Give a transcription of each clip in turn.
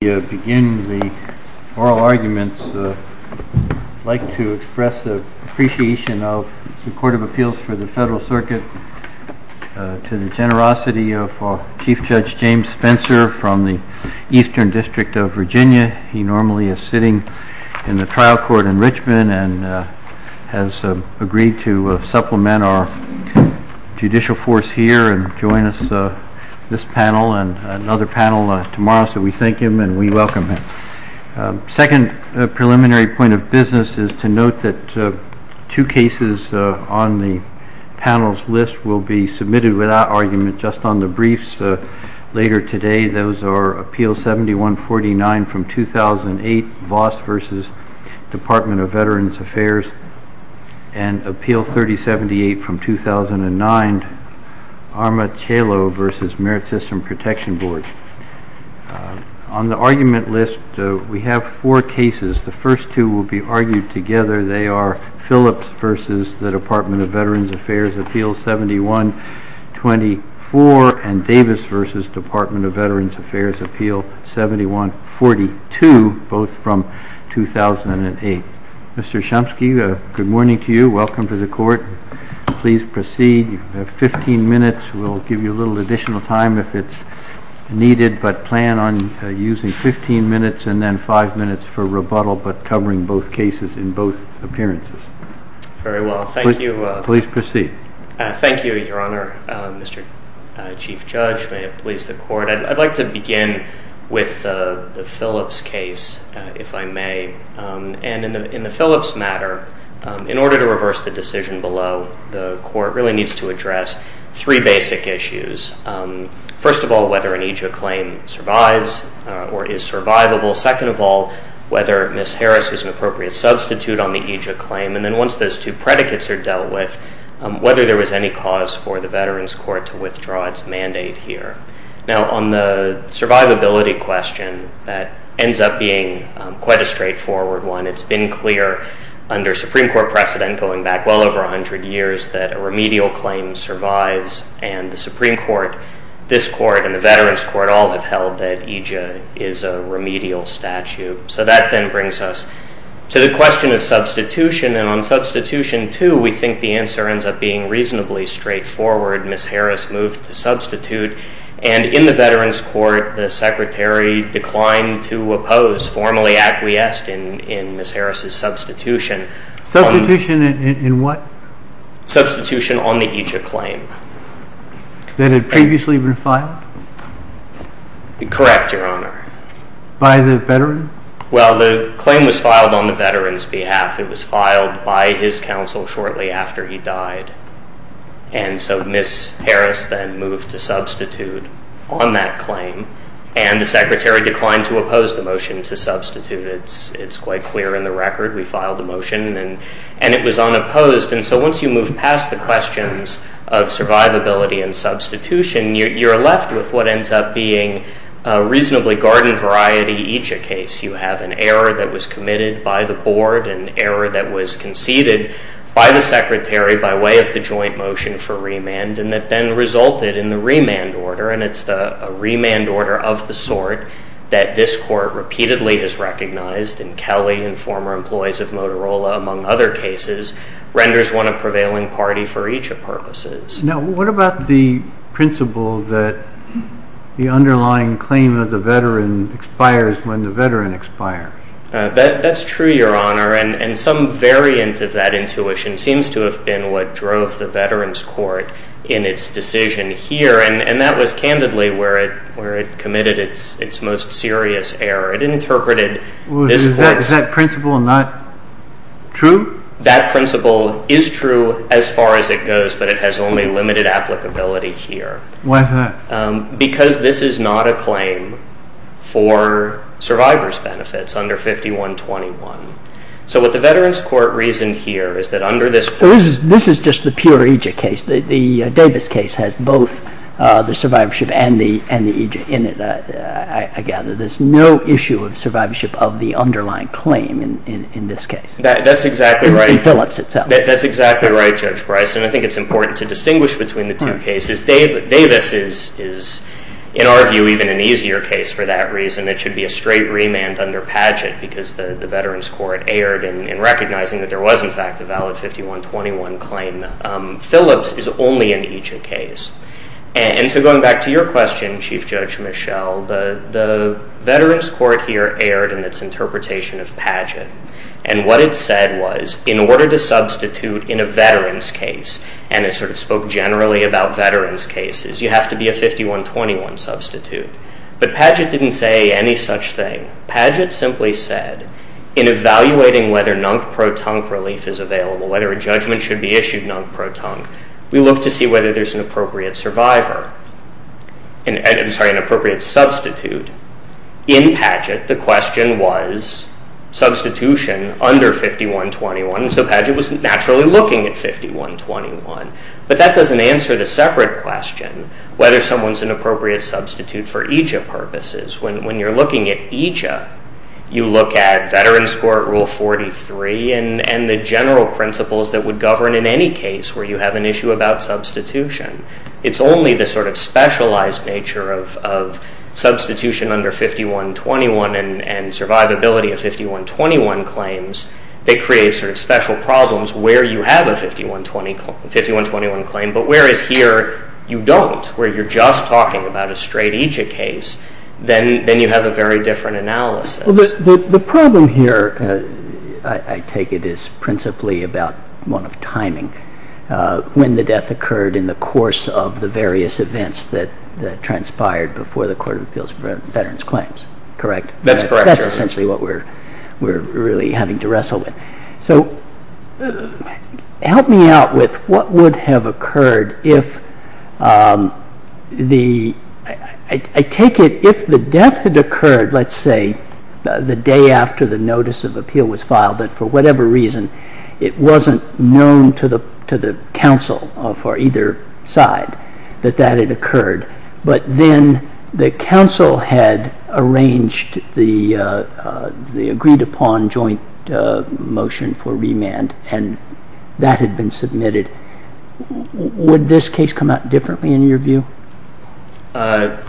I'd like to express appreciation of the Court of Appeals for the Federal Circuit to the generosity of Chief Judge James Spencer from the Eastern District of Virginia. He normally is sitting in the trial court in Richmond and has agreed to supplement our Second preliminary point of business is to note that two cases on the panel's list will be submitted without argument just on the briefs later today. Those are Appeal 7149 from 2008, Voss v. Department of Veterans Affairs, and Appeal 3078 from 2009, Armatello v. Merit System Protection Board. On the argument list, we have four cases. The first two will be argued together. They are Phillips v. Department of Veterans Affairs, Appeal 7124, and Davis v. Department of Veterans Affairs, Appeal 7142, both from 2008. Mr. Chomsky, good morning to you. Welcome to the Court. Please proceed. You have 15 minutes. We'll give you a little additional time if it's needed, but plan on using 15 minutes and then 5 minutes for rebuttal, but covering both cases in both appearances. Very well. Thank you. Please proceed. Thank you, Your Honor. Mr. Chief Judge, may it please the Court, I'd like to begin with the Phillips case, if I may. In the Phillips matter, in order to reverse the decision below, the Court really needs to address three basic issues. First of all, whether an AJA claim survives or is survivable. Second of all, whether Ms. Harris is an appropriate substitute on the AJA claim. And then once those two predicates are dealt with, whether there was any cause for the Veterans Court to withdraw its mandate here. Now, on the survivability question, that ends up being quite a straightforward one. It's been clear under Supreme Court precedent going back well over 100 years that a remedial claim survives, and the Supreme Court, this Court, and the Veterans Court all have held that AJA is a remedial statute. So that then brings us to the question of substitution, and on substitution two, we think the answer ends up being reasonably straightforward. Ms. Harris moved to substitute, and in the Veterans Court, the Secretary declined to oppose formally acquiescing in Ms. Harris' substitution. Substitution in what? Substitution on the AJA claim. That had previously been filed? Correct, Your Honor. By the Veterans? Well, the claim was filed on the Veterans' behalf. It was filed by his counsel shortly after he died. And so Ms. Harris then moved to substitute on that claim, and the Secretary declined to oppose the motion to substitute. It's quite clear in the record. We filed the motion, and it was unopposed. And so once you move past the questions of survivability and substitution, you're left with what ends up being a reasonably guarded variety AJA case. You have an error that was committed by the Board, an error that was conceded by the Secretary by way of the joint motion for remand, and that then resulted in the remand order, and it's a remand order of the sort that this Court repeatedly has recognized, and Kelly and former employees of Motorola, among other cases, renders one a prevailing party for AJA purposes. Now, what about the principle that the underlying claim of the Veteran expires when the Veteran expires? That's true, Your Honor, and some variant of that intuition seems to have been what drove the Veterans' Court in its decision here, and that was candidly where it committed its most serious error. It interpreted this Court's... Is that principle not true? That principle is true as far as it goes, but it has only limited applicability here. Why is that? Because this is not a claim for survivor's benefits under 5121. So what the Veterans' Court reasoned here is that under this... This is just a pure AJA case. The Davis case has both the survivorship and the AJA in it, I gather. There's no issue of survivorship of the underlying claim in this case. That's exactly right. In Phillips itself. That's exactly right, Judge Bryson. I think it's important to distinguish between the two cases. Davis is, in our view, even an easier case for that reason. It should be a straight remand under pageant because the Veterans' Court erred in recognizing that there was, in fact, a valid 5121 claim. Phillips is only an AJA case. And so going back to your question, Chief Judge Michel, the Veterans' Court here erred in its interpretation of pageant, and what it said was, in order to substitute in a veterans' case, and it sort of spoke generally about veterans' cases, you have to be a 5121 substitute. But pageant didn't say any such thing. Pageant simply said, in evaluating whether NUNC pro-tunc relief is available, whether a judgment should be issued NUNC pro-tunc, we look to see whether there's an appropriate survivor. I'm sorry, an appropriate substitute. In pageant, the question was substitution under 5121, so pageant was naturally looking at 5121. But that doesn't answer the separate question, whether someone's an appropriate substitute for AJA purposes. When you're looking at AJA, you look at Veterans' Court Rule 43 and the general principles that would govern in any case where you have an issue about substitution. It's only the sort of specialized nature of substitution under 5121 and survivability of 5121 claims that creates sort of special problems where you have a 5121 claim, but whereas here you don't, where you're just talking about a straight AJA case, then you have a very different analysis. The problem here, I take it, is principally about one of timing. When the death occurred in the course of the various events that transpired before the Court of Appeals for Veterans' Claims, correct? That's correct. That's essentially what we're really having to wrestle with. So help me out with what would have occurred if the, I take it, if the death had occurred, let's say, the day after the notice of appeal was filed, but for whatever reason it wasn't known to the counsel for either side that that had occurred, but then the counsel had arranged the agreed-upon joint motion for remand and that had been submitted. Would this case come out differently in your view? I'm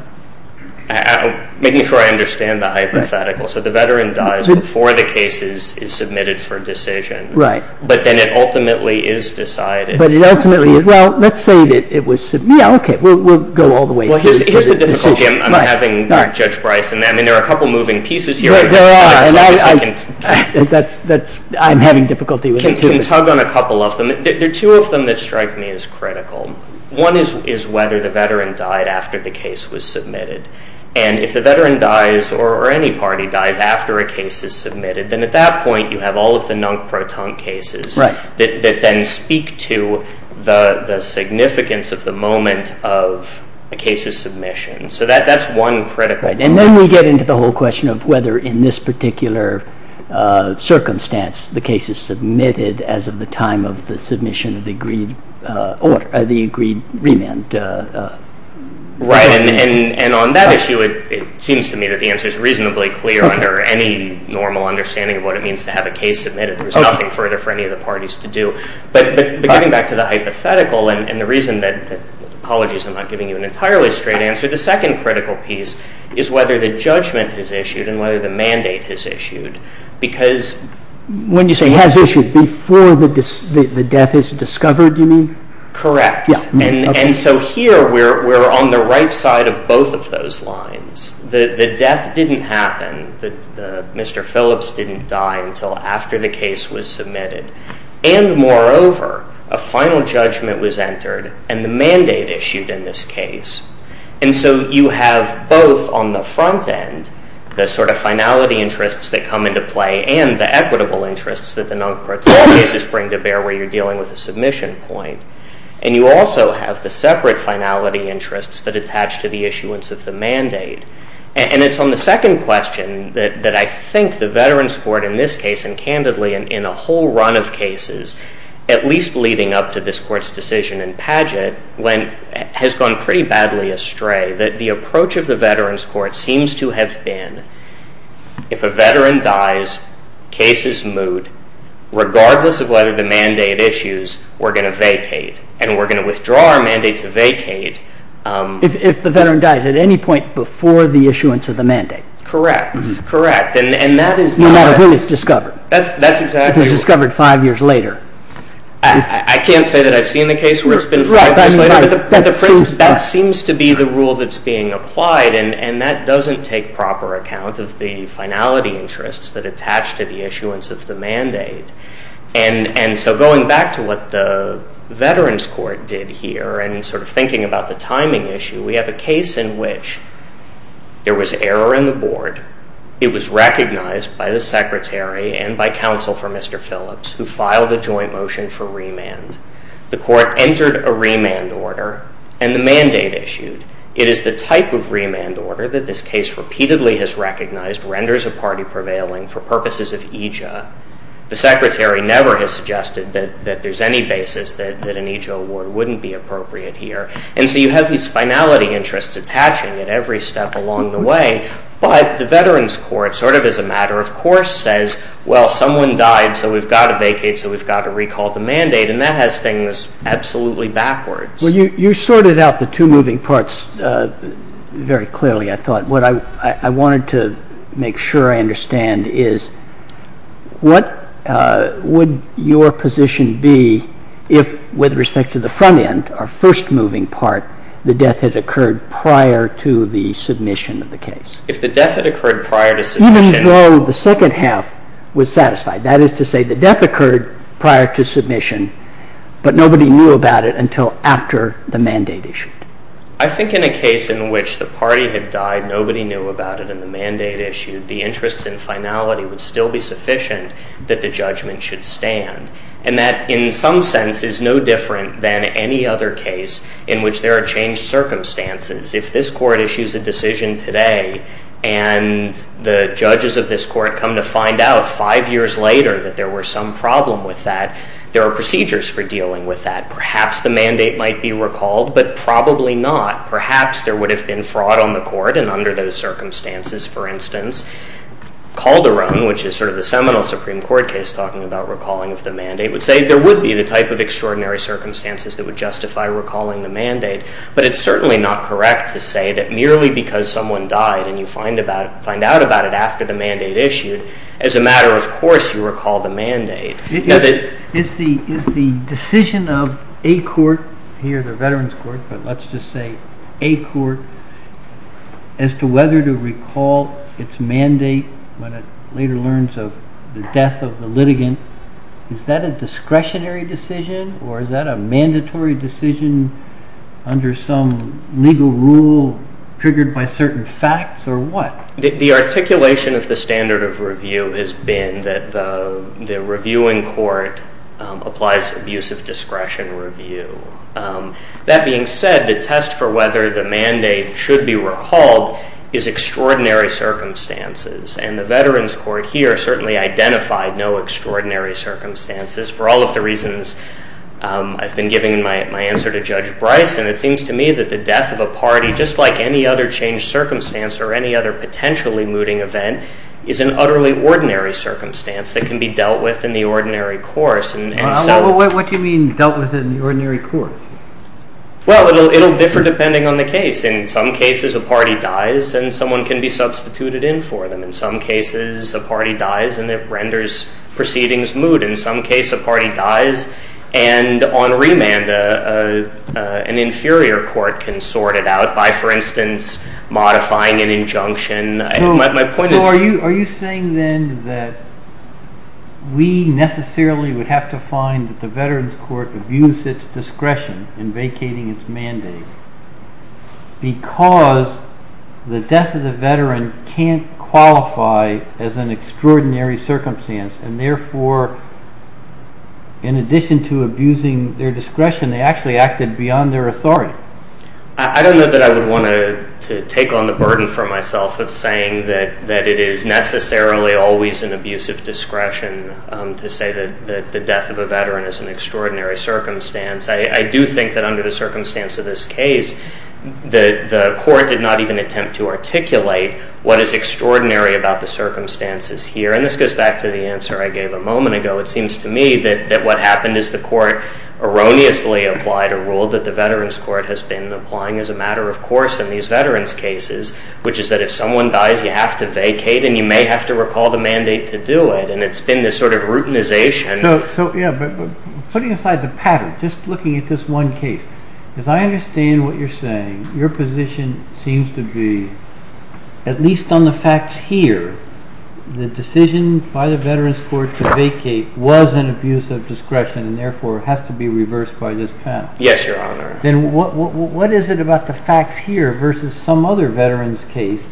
making sure I understand the hypothetical. So the veteran dies before the case is submitted for decision. Right. But then it ultimately is decided. But it ultimately, well, let's say that it was, yeah, okay, we'll go all the way. Well, here's the difficulty I'm having with Judge Bryson. I mean, there are a couple moving pieces here. There are, and I'm having difficulty with this. Can you tug on a couple of them? There are two of them that strike me as critical. One is whether the veteran died after the case was submitted. And if the veteran dies or any party dies after a case is submitted, then at that point you have all of the non-parton cases that then speak to the significance of the moment of the case's submission. So that's one critical. And then we get into the whole question of whether in this particular circumstance the case is submitted as of the time of the submission of the agreed remand. Right. And on that issue it seems to me that the answer is reasonably clear under any normal understanding of what it means to have a case submitted. There's nothing further for any of the parties to do. But going back to the hypothetical and the reason that, apologies, I'm not giving you an entirely straight answer, the second critical piece is whether the judgment is issued and whether the mandate is issued. Because when you say has issued, before the death is discovered, you mean? Correct. And so here we're on the right side of both of those lines. The death didn't happen. Mr. Phillips didn't die until after the case was submitted. And moreover, a final judgment was entered and the mandate issued in this case. And so you have both on the front end the sort of finality interests that come into play and the equitable interests that the non-parton cases bring to bear where you're dealing with a submission point. And you also have the separate finality interests that attach to the issuance of the mandate. And it's on the second question that I think the Veterans Court in this case, and candidly in a whole run of cases, at least leading up to this court's decision in Padgett, has gone pretty badly astray. The approach of the Veterans Court seems to have been if a veteran dies, case is moot, regardless of whether the mandate issues, we're going to vacate. And we're going to withdraw our mandate to vacate. If the veteran dies at any point before the issuance of the mandate. Correct. Correct. No matter whom it's discovered. That's exactly. It's discovered five years later. I can't say that I've seen a case where it's been five years later. That seems to be the rule that's being applied, and that doesn't take proper account of the finality interests that attach to the issuance of the mandate. And so going back to what the Veterans Court did here, and sort of thinking about the timing issue, we have a case in which there was error in the board. It was recognized by the secretary and by counsel for Mr. Phillips, who filed a joint motion for remand. The court entered a remand order, and the mandate issued. It is the type of remand order that this case repeatedly has recognized renders a party prevailing for purposes of EJA. The secretary never has suggested that there's any basis that an EJA award wouldn't be appropriate here. And so you have these finality interests attaching at every step along the way. But the Veterans Court, sort of as a matter of course, says, well, someone died, so we've got to vacate, so we've got to recall the mandate. And that has things absolutely backwards. Well, you sorted out the two moving parts very clearly, I thought. What I wanted to make sure I understand is, what would your position be if, with respect to the front end, our first moving part, the death had occurred prior to the submission of the case? If the death had occurred prior to submission. Even though the second half was satisfied, that is to say the death occurred prior to submission, but nobody knew about it until after the mandate issued. I think in a case in which the parties have died, nobody knew about it, and the mandate issued, the interest in finality would still be sufficient that the judgment should stand. And that, in some sense, is no different than any other case in which there are changed circumstances. If this court issues a decision today, and the judges of this court come to find out five years later that there were some problem with that, there are procedures for dealing with that. Perhaps the mandate might be recalled, but probably not. Perhaps there would have been fraud on the court, and under those circumstances, for instance, Calderon, which is sort of the seminal Supreme Court case talking about recalling of the mandate, would say there would be the type of extraordinary circumstances that would justify recalling the mandate. But it's certainly not correct to say that merely because someone died, and you find out about it after the mandate issued. As a matter of course, you recall the mandate. Is the decision of a court, here the Veterans Court, but let's just say a court, as to whether to recall its mandate when it later learns of the death of the litigant, is that a discretionary decision, or is that a mandatory decision under some legal rule triggered by certain facts, or what? The articulation of the standard of review has been that the reviewing court applies to abusive discretion review. That being said, the test for whether the mandate should be recalled is extraordinary circumstances, and the Veterans Court here certainly identified no extraordinary circumstances. For all of the reasons I've been giving in my answer to Judge Bryson, it seems to me that the death of a party, just like any other changed circumstance, or any other potentially mooting event, is an utterly ordinary circumstance that can be dealt with in the ordinary course. What do you mean dealt with in the ordinary course? Well, it will differ depending on the case. In some cases, a party dies, and someone can be substituted in for them. In some cases, a party dies, and it renders proceedings moot. In some cases, a party dies, and on remand, an inferior court can sort it out by, for instance, modifying an injunction. Are you saying then that we necessarily would have to find that the Veterans Court abused its discretion in vacating its mandate because the death of the veteran can't qualify as an extraordinary circumstance, and therefore, in addition to abusing their discretion, they actually acted beyond their authority? I don't know that I would want to take on the burden for myself of saying that it is necessarily always an abuse of discretion to say that the death of a veteran is an extraordinary circumstance. I do think that under the circumstance of this case, the court did not even attempt to articulate what is extraordinary about the circumstances here. And this goes back to the answer I gave a moment ago. It seems to me that what happened is the court erroneously applied a rule that the Veterans Court has been applying as a matter of course in these veterans' cases, which is that if someone dies, you have to vacate, and you may have to recall the mandate to do it. And it's been this sort of routinization. So, yeah, but putting aside the pattern, just looking at this one case, as I understand what you're saying, your position seems to be, at least on the facts here, the decision by the Veterans Court to vacate was an abuse of discretion and therefore has to be reversed by this patent. Yes, Your Honor. Then what is it about the facts here versus some other veterans' case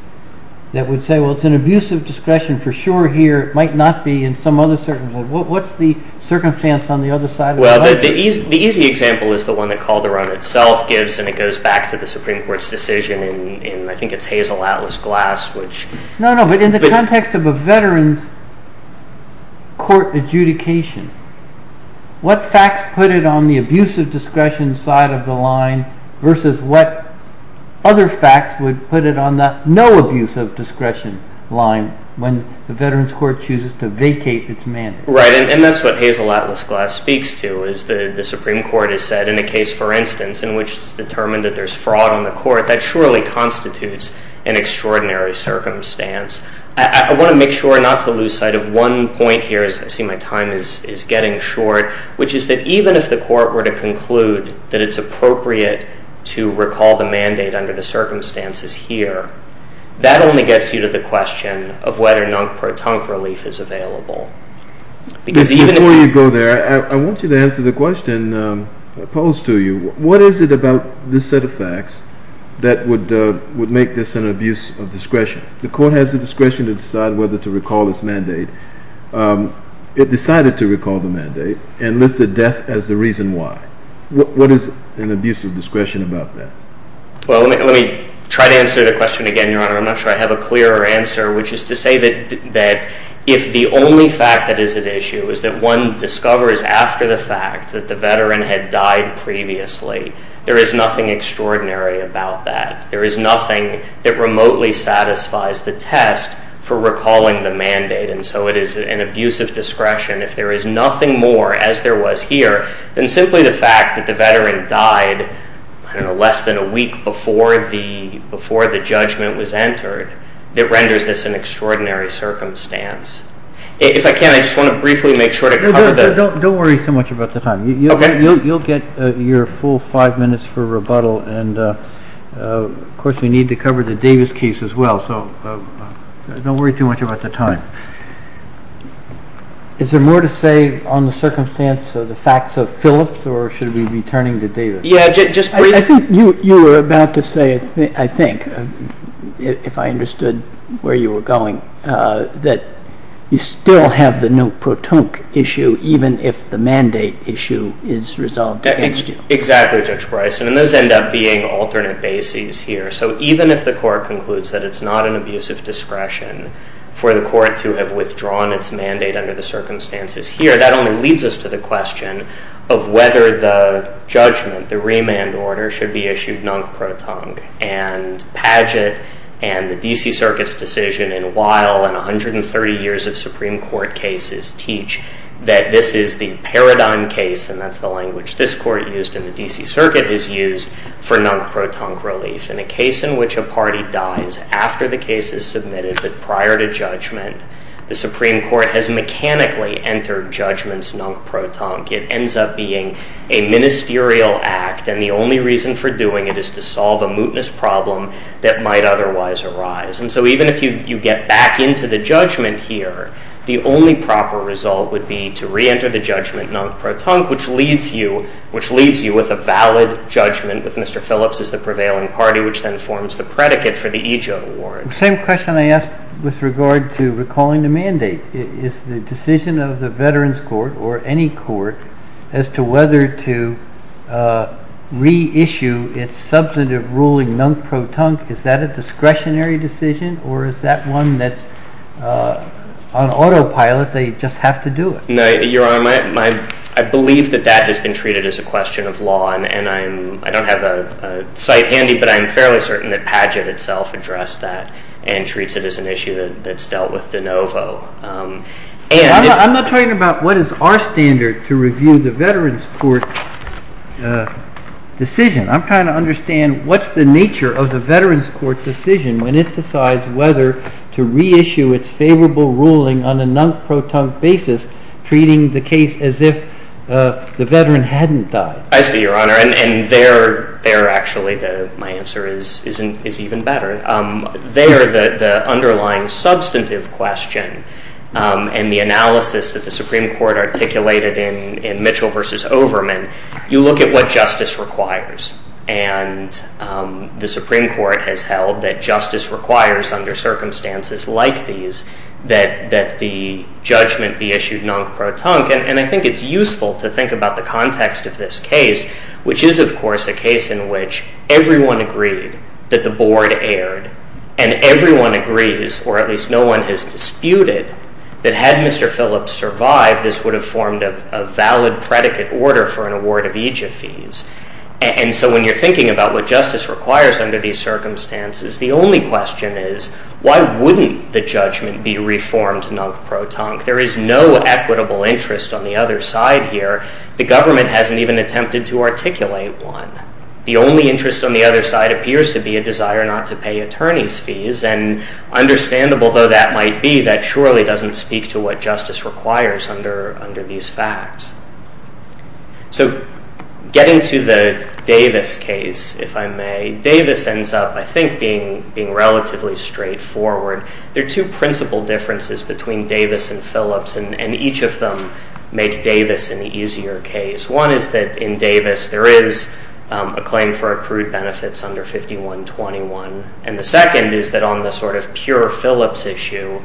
that would say, well, it's an abuse of discretion for sure here. It might not be in some other circumstance. What's the circumstance on the other side of the line? Well, the easy example is the one that Calderon itself gives, and it goes back to the Supreme Court's decision in, I think it's Hazel Atlas Glass. No, no, but in the context of a veterans' court adjudication, what facts put it on the abuse of discretion side of the line versus what other facts would put it on the no abuse of discretion line when the Veterans Court chooses to vacate its mandate? Right, and that's what Hazel Atlas Glass speaks to, is the Supreme Court has said in a case, for instance, in which it's determined that there's fraud on the court, that surely constitutes an extraordinary circumstance. I want to make sure not to lose sight of one point here, as I see my time is getting short, which is that even if the court were to conclude that it's appropriate to recall the mandate under the circumstances here, that only gets you to the question of whether or not pertunct relief is available. Before you go there, I want you to answer the question posed to you. What is it about this set of facts that would make this an abuse of discretion? The court has the discretion to decide whether to recall its mandate. It decided to recall the mandate and listed death as the reason why. What is an abuse of discretion about that? Well, let me try to answer the question again. I'm not sure I have a clearer answer, which is to say that if the only fact that is at issue is that one discovers after the fact that the veteran had died previously, there is nothing extraordinary about that. There is nothing that remotely satisfies the test for recalling the mandate, and so it is an abuse of discretion. If there is nothing more, as there was here, than simply the fact that the veteran died, I don't know, less than a week before the judgment was entered, it renders this an extraordinary circumstance. If I can, I just want to briefly make sure to cover that. Don't worry too much about the time. You'll get your full five minutes for rebuttal, and of course you need to cover the Davis case as well, so don't worry too much about the time. Is there more to say on the circumstance of the facts of Phillips or should we be turning to Davis? Yeah, just briefly. I think you were about to say, I think, if I understood where you were going, that you still have the Newt Pruitt issue even if the mandate issue is resolved. Exactly, Judge Price, and those end up being alternate bases here, so even if the court concludes that it's not an abuse of discretion for the court to have withdrawn its mandate under the circumstances here, that only leads us to the question of whether the judgment, the remand order, should be issued non-crotongue, and Padgett and the D.C. Circuit's decision in Wile and 130 years of Supreme Court cases teach that this is the paradigm case, and that's the language this court used in the D.C. Circuit, is used for non-crotongue relief. In a case in which a party dies after the case is submitted, what we find is that prior to judgment, the Supreme Court has mechanically entered judgments non-crotongue. It ends up being a ministerial act, and the only reason for doing it is to solve a mootness problem that might otherwise arise. And so even if you get back into the judgment here, the only proper result would be to re-enter the judgment non-crotongue, which leaves you with a valid judgment, with Mr. Phillips as the prevailing party, which then forms the predicate for the EJOTA warrant. The same question I asked with regard to recalling the mandate. Is the decision of the Veterans Court, or any court, as to whether to re-issue its substantive ruling non-crotongue, is that a discretionary decision, or is that one that on autopilot they just have to do it? No, Your Honor, I believe that that has been treated as a question of law, and I don't have a cite handy, but I'm fairly certain that Padgett itself addressed that and treats it as an issue that's dealt with de novo. I'm not talking about what is our standard to review the Veterans Court decision. I'm trying to understand what's the nature of the Veterans Court decision when it decides whether to re-issue its favorable ruling on a non-crotongue basis, treating the case as if the veteran hadn't died. I see, Your Honor, and there, actually, my answer is even better. There, the underlying substantive question and the analysis that the Supreme Court articulated in Mitchell v. Overman, you look at what justice requires, and the Supreme Court has held that justice requires, under circumstances like these, that the judgment be issued non-crotongue. And I think it's useful to think about the context of this case, which is, of course, a case in which everyone agreed that the board erred, and everyone agrees, or at least no one has disputed, that had Mr. Phillips survived, this would have formed a valid predicate order for an award of eejit fees. And so when you're thinking about what justice requires under these circumstances, the only question is, why wouldn't the judgment be reformed non-crotongue? There is no equitable interest on the other side here. The government hasn't even attempted to articulate one. The only interest on the other side appears to be a desire not to pay attorney's fees, and understandable though that might be, that surely doesn't speak to what justice requires under these facts. So getting to the Davis case, if I may, Davis ends up, I think, being relatively straightforward. There are two principal differences between Davis and Phillips, and each of them make Davis an easier case. One is that in Davis there is a claim for accrued benefits under 5121, and the second is that on the sort of pure Phillips issue,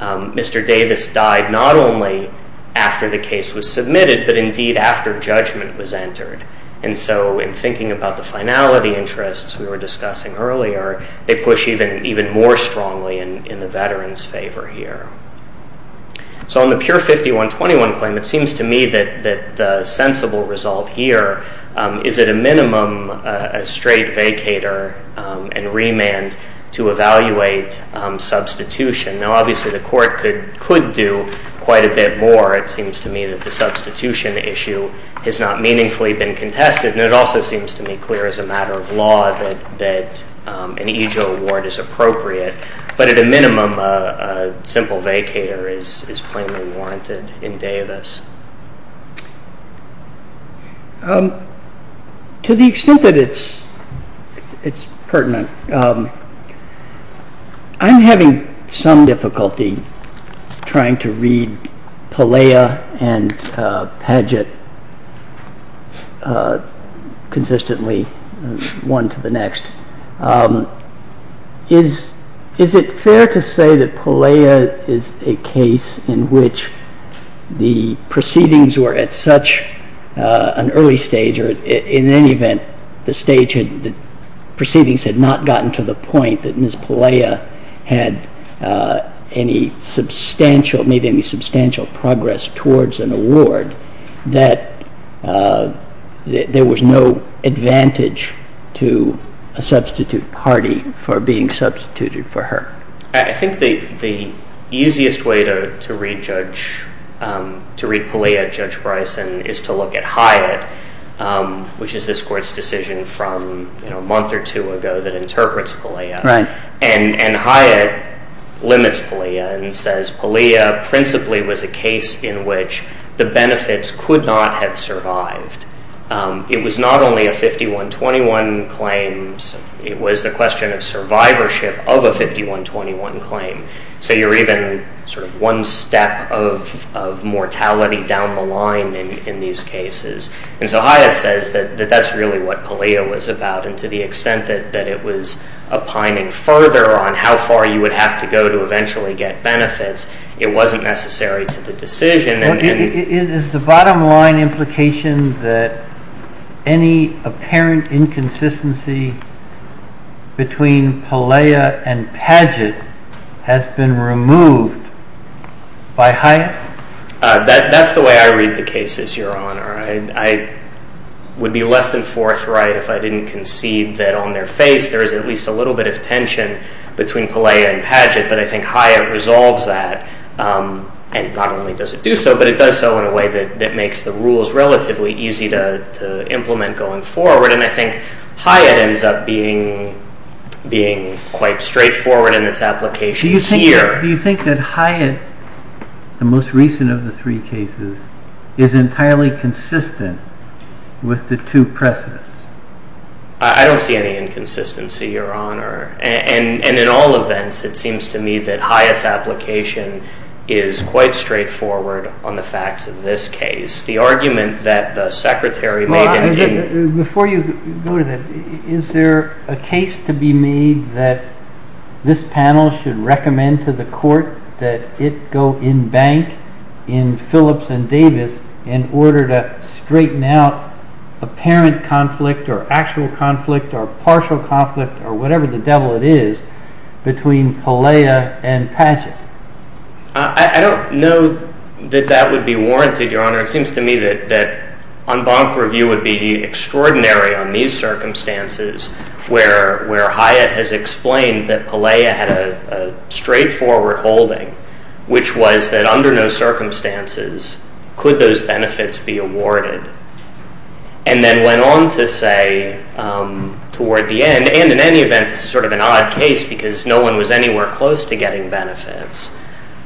Mr. Davis died not only after the case was submitted, but indeed after judgment was entered. And so in thinking about the finality interests we were discussing earlier, they push even more strongly in the veterans' favor here. So on the pure 5121 claim, it seems to me that the sensible result here is at a minimum a straight vacator and remand to evaluate substitution. Now obviously the court could do quite a bit more. It seems to me that the substitution issue has not meaningfully been contested, and it also seems to me clear as a matter of law that an easel award is appropriate, but at a minimum a simple vacator is plainly warranted in Davis. To the extent that it's pertinent, I'm having some difficulty trying to read Pelea and Padgett consistently one to the next. Is it fair to say that Pelea is a case in which the proceedings were at such an early stage, that in any event the proceedings had not gotten to the point that Ms. Pelea had made any substantial progress towards an award, that there was no advantage to a substitute party for being substituted for her? I think the easiest way to read Pelea, Judge Bryson, is to look at Hyatt, which is this court's decision from a month or two ago that interprets Pelea. And Hyatt limits Pelea and says Pelea principally was a case in which the benefits could not have survived. It was not only a 51-21 claim, it was the question of survivorship of a 51-21 claim. So you're even sort of one step of mortality down the line in these cases. And so Hyatt says that that's really what Pelea was about, and to the extent that it was opining further on how far you would have to go to eventually get benefits, it wasn't necessary to the decision. Is the bottom line implication that any apparent inconsistency between Pelea and Padgett has been removed by Hyatt? That's the way I read the case, Your Honor. I would be less than forthright if I didn't concede that on their face there is at least a little bit of tension between Pelea and Padgett, but I think Hyatt resolves that, and not only does it do so, but it does so in a way that makes the rules relatively easy to implement going forward. And I think Hyatt ends up being quite straightforward in its application here. Do you think that Hyatt, the most recent of the three cases, is entirely consistent with the two precedents? I don't see any inconsistency, Your Honor. And in all events, it seems to me that Hyatt's application is quite straightforward on the facts of this case. The argument that the Secretary made— Before you go to that, is there a case to be made that this panel should recommend to the court that it go in bank in Phillips and Davis in order to straighten out apparent conflict or actual conflict or partial conflict or whatever the devil it is between Pelea and Padgett? I don't know that that would be warranted, Your Honor. It seems to me that en banc review would be extraordinary on these circumstances where Hyatt has explained that Pelea had a straightforward holding, which was that under no circumstances could those benefits be awarded, and then went on to say toward the end—and in any event, it's sort of an odd case because no one was anywhere close to getting benefits—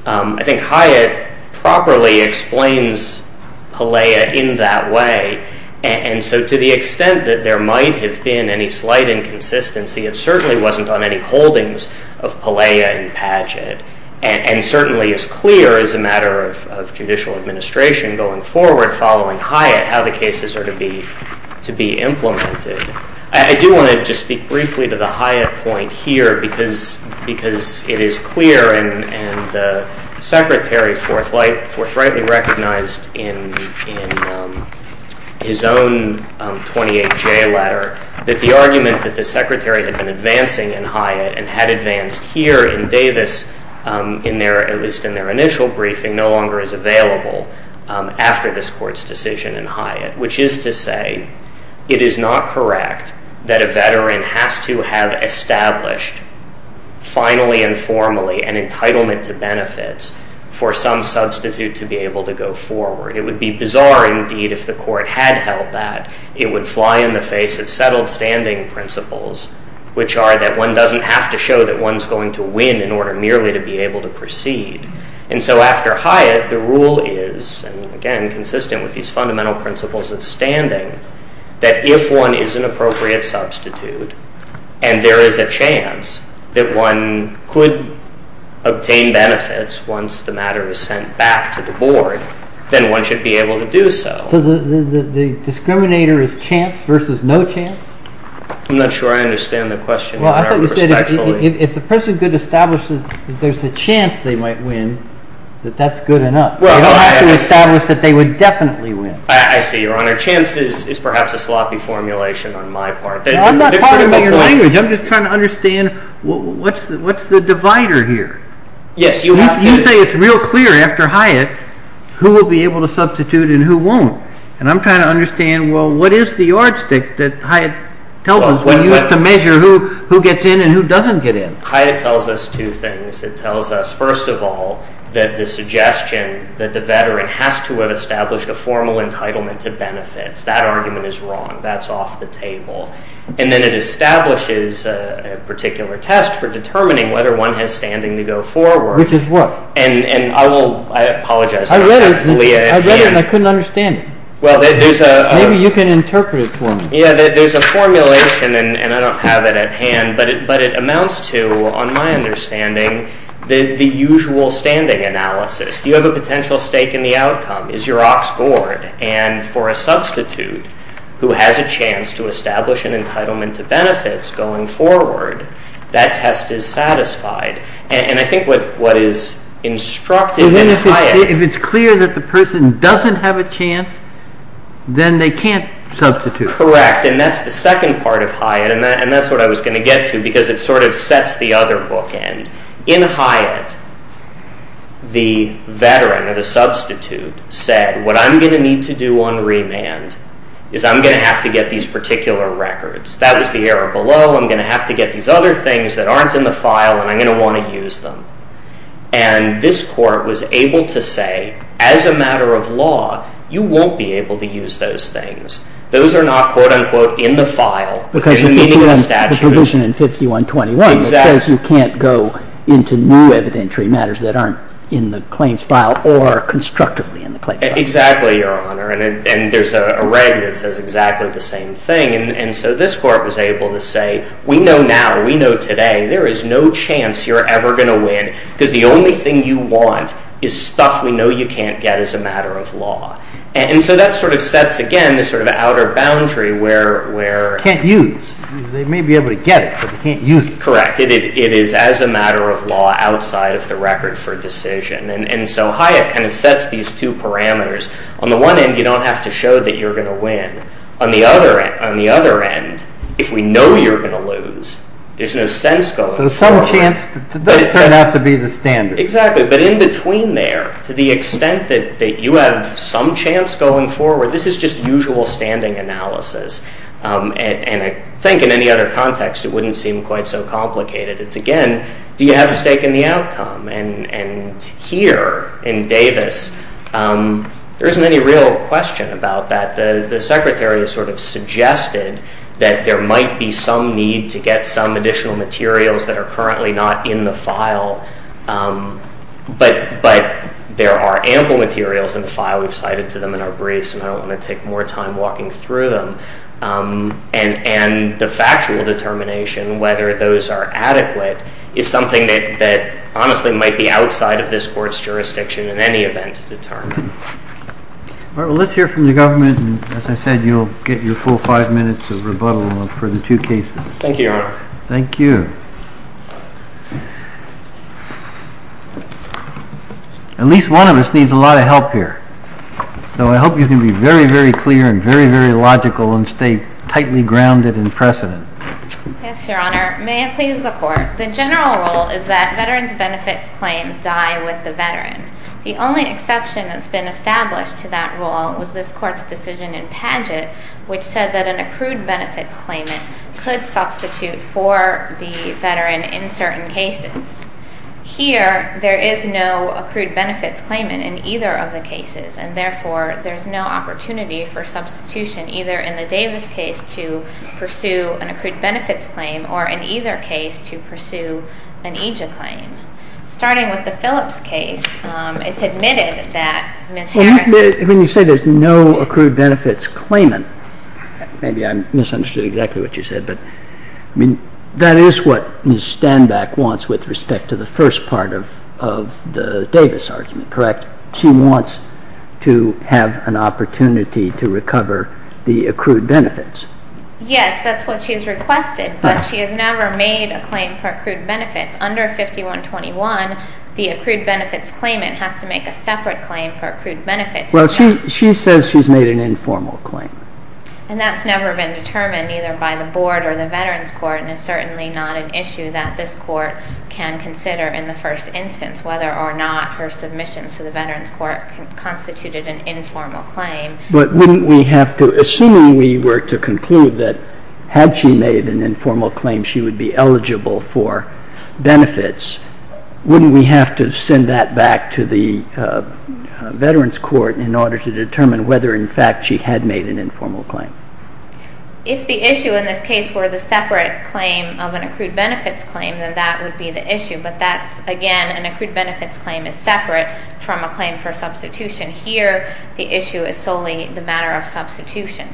I think Hyatt properly explains Pelea in that way. And so to the extent that there might have been any slight inconsistency, it certainly wasn't on any holdings of Pelea and Padgett, and certainly is clear as a matter of judicial administration going forward following Hyatt how the cases are to be implemented. I do want to just speak briefly to the Hyatt point here because it is clear, and the Secretary forthrightly recognized in his own 28-J letter that the argument that the Secretary had been advancing in Hyatt and had advanced here in Davis at least in their initial briefing after this Court's decision in Hyatt, which is to say it is not correct that a veteran has to have established finally and formally an entitlement to benefits for some substitute to be able to go forward. It would be bizarre indeed if the Court had held that. It would fly in the face of settled standing principles, which are that one doesn't have to show that one's going to win in order merely to be able to proceed. And so after Hyatt, the rule is, again consistent with these fundamental principles of standing, that if one is an appropriate substitute and there is a chance that one could obtain benefits once the matter is sent back to the Board, then one should be able to do so. So the discriminator is chance versus no chance? I'm not sure I understand the question. Well, I thought you said if the person could establish that there's a chance they might win, that that's good enough. You don't have to establish that they would definitely win. I see, Your Honor. Chance is perhaps a sloppy formulation on my part. I'm not talking about your language. I'm just trying to understand what's the divider here? You say it's real clear after Hyatt who will be able to substitute and who won't. And I'm trying to understand, well, what is the yardstick that Hyatt tells us when you have to measure who gets in and who doesn't get in? Hyatt tells us two things. It tells us, first of all, that the suggestion that the veteran has to establish a formal entitlement to benefits, that argument is wrong. That's off the table. And then it establishes a particular test for determining whether one has standing to go forward. Which is what? And I will apologize. I read it and I couldn't understand it. Maybe you can interpret for me. Yeah, there's a formulation, and I don't have it at hand, but it amounts to, on my understanding, the usual standing analysis. You have a potential stake in the outcome. Is your op scored? And for a substitute who has a chance to establish an entitlement to benefits going forward, that test is satisfied. If it's clear that the person doesn't have a chance, then they can't substitute. Correct. And that's the second part of Hyatt, and that's what I was going to get to, because it sort of sets the other book end. In Hyatt, the veteran or the substitute said, what I'm going to need to do on remand is I'm going to have to get these particular records. That was the error below. I'm going to have to get these other things that aren't in the file, and I'm going to want to use them. And this court was able to say, as a matter of law, you won't be able to use those things. Those are not, quote, unquote, in the file. Because the provision in 5121 says you can't go into new evidentiary matters that aren't in the claims file or constructively in the claims file. Exactly, Your Honor. And there's a reg that says exactly the same thing. And so this court was able to say, we know now, we know today, there is no chance you're ever going to win, because the only thing you want is stuff we know you can't get as a matter of law. And so that sort of sets, again, this sort of outer boundary where- Can't use. They may be able to get it, but they can't use it. Correct. It is as a matter of law outside of the record for decision. And so Hyatt kind of sets these two parameters. On the one end, you don't have to show that you're going to win. On the other end, if we know you're going to lose, there's no sense going forward. So there's some chance that it doesn't have to be the standard. Exactly. But in between there, to the extent that you have some chance going forward, this is just usual standing analysis. And I think in any other context, it wouldn't seem quite so complicated. It's, again, do you have a stake in the outcome? And here in Davis, there isn't any real question about that. The Secretary sort of suggested that there might be some need to get some additional materials that are currently not in the file. But there are ample materials in the file we've cited to them in our briefs, and I don't want to take more time walking through them. And the factual determination, whether those are adequate, is something that honestly might be outside of this board's jurisdiction in any event to determine. All right, well, let's hear from the government. As I said, you'll get your full five minutes of rebuttal for the two cases. Thank you, Your Honor. Thank you. At least one of us needs a lot of help here. So I hope you can be very, very clear and very, very logical and stay tightly grounded in precedent. Yes, Your Honor. May I please report? The general rule is that veterans' benefits claims die with the veterans. The only exception that's been established to that rule was this Court's decision in Padgett, which said that an accrued benefits claimant could substitute for the veteran in certain cases. Here, there is no accrued benefits claimant in either of the cases, and therefore there's no opportunity for substitution, either in the Davis case to pursue an accrued benefits claim or in either case to pursue an AJA claim. Starting with the Phillips case, it's admitted that Ms. Harris... When you say there's no accrued benefits claimant, maybe I misunderstood exactly what you said, but that is what Ms. Stanback wants with respect to the first part of the Davis argument, correct? She wants to have an opportunity to recover the accrued benefits. Yes, that's what she's requested, but she has never made a claim for accrued benefits. Under 5121, the accrued benefits claimant has to make a separate claim for accrued benefits. Well, she says she's made an informal claim. And that's never been determined, either by the Board or the Veterans Court, and it's certainly not an issue that this Court can consider in the first instance, whether or not her submission to the Veterans Court constituted an informal claim. But assuming we were to conclude that, had she made an informal claim, she would be eligible for benefits, wouldn't we have to send that back to the Veterans Court in order to determine whether, in fact, she had made an informal claim? If the issue in this case were the separate claim of an accrued benefits claim, then that would be the issue. But, again, an accrued benefits claim is separate from a claim for substitution. Here, the issue is solely the matter of substitution.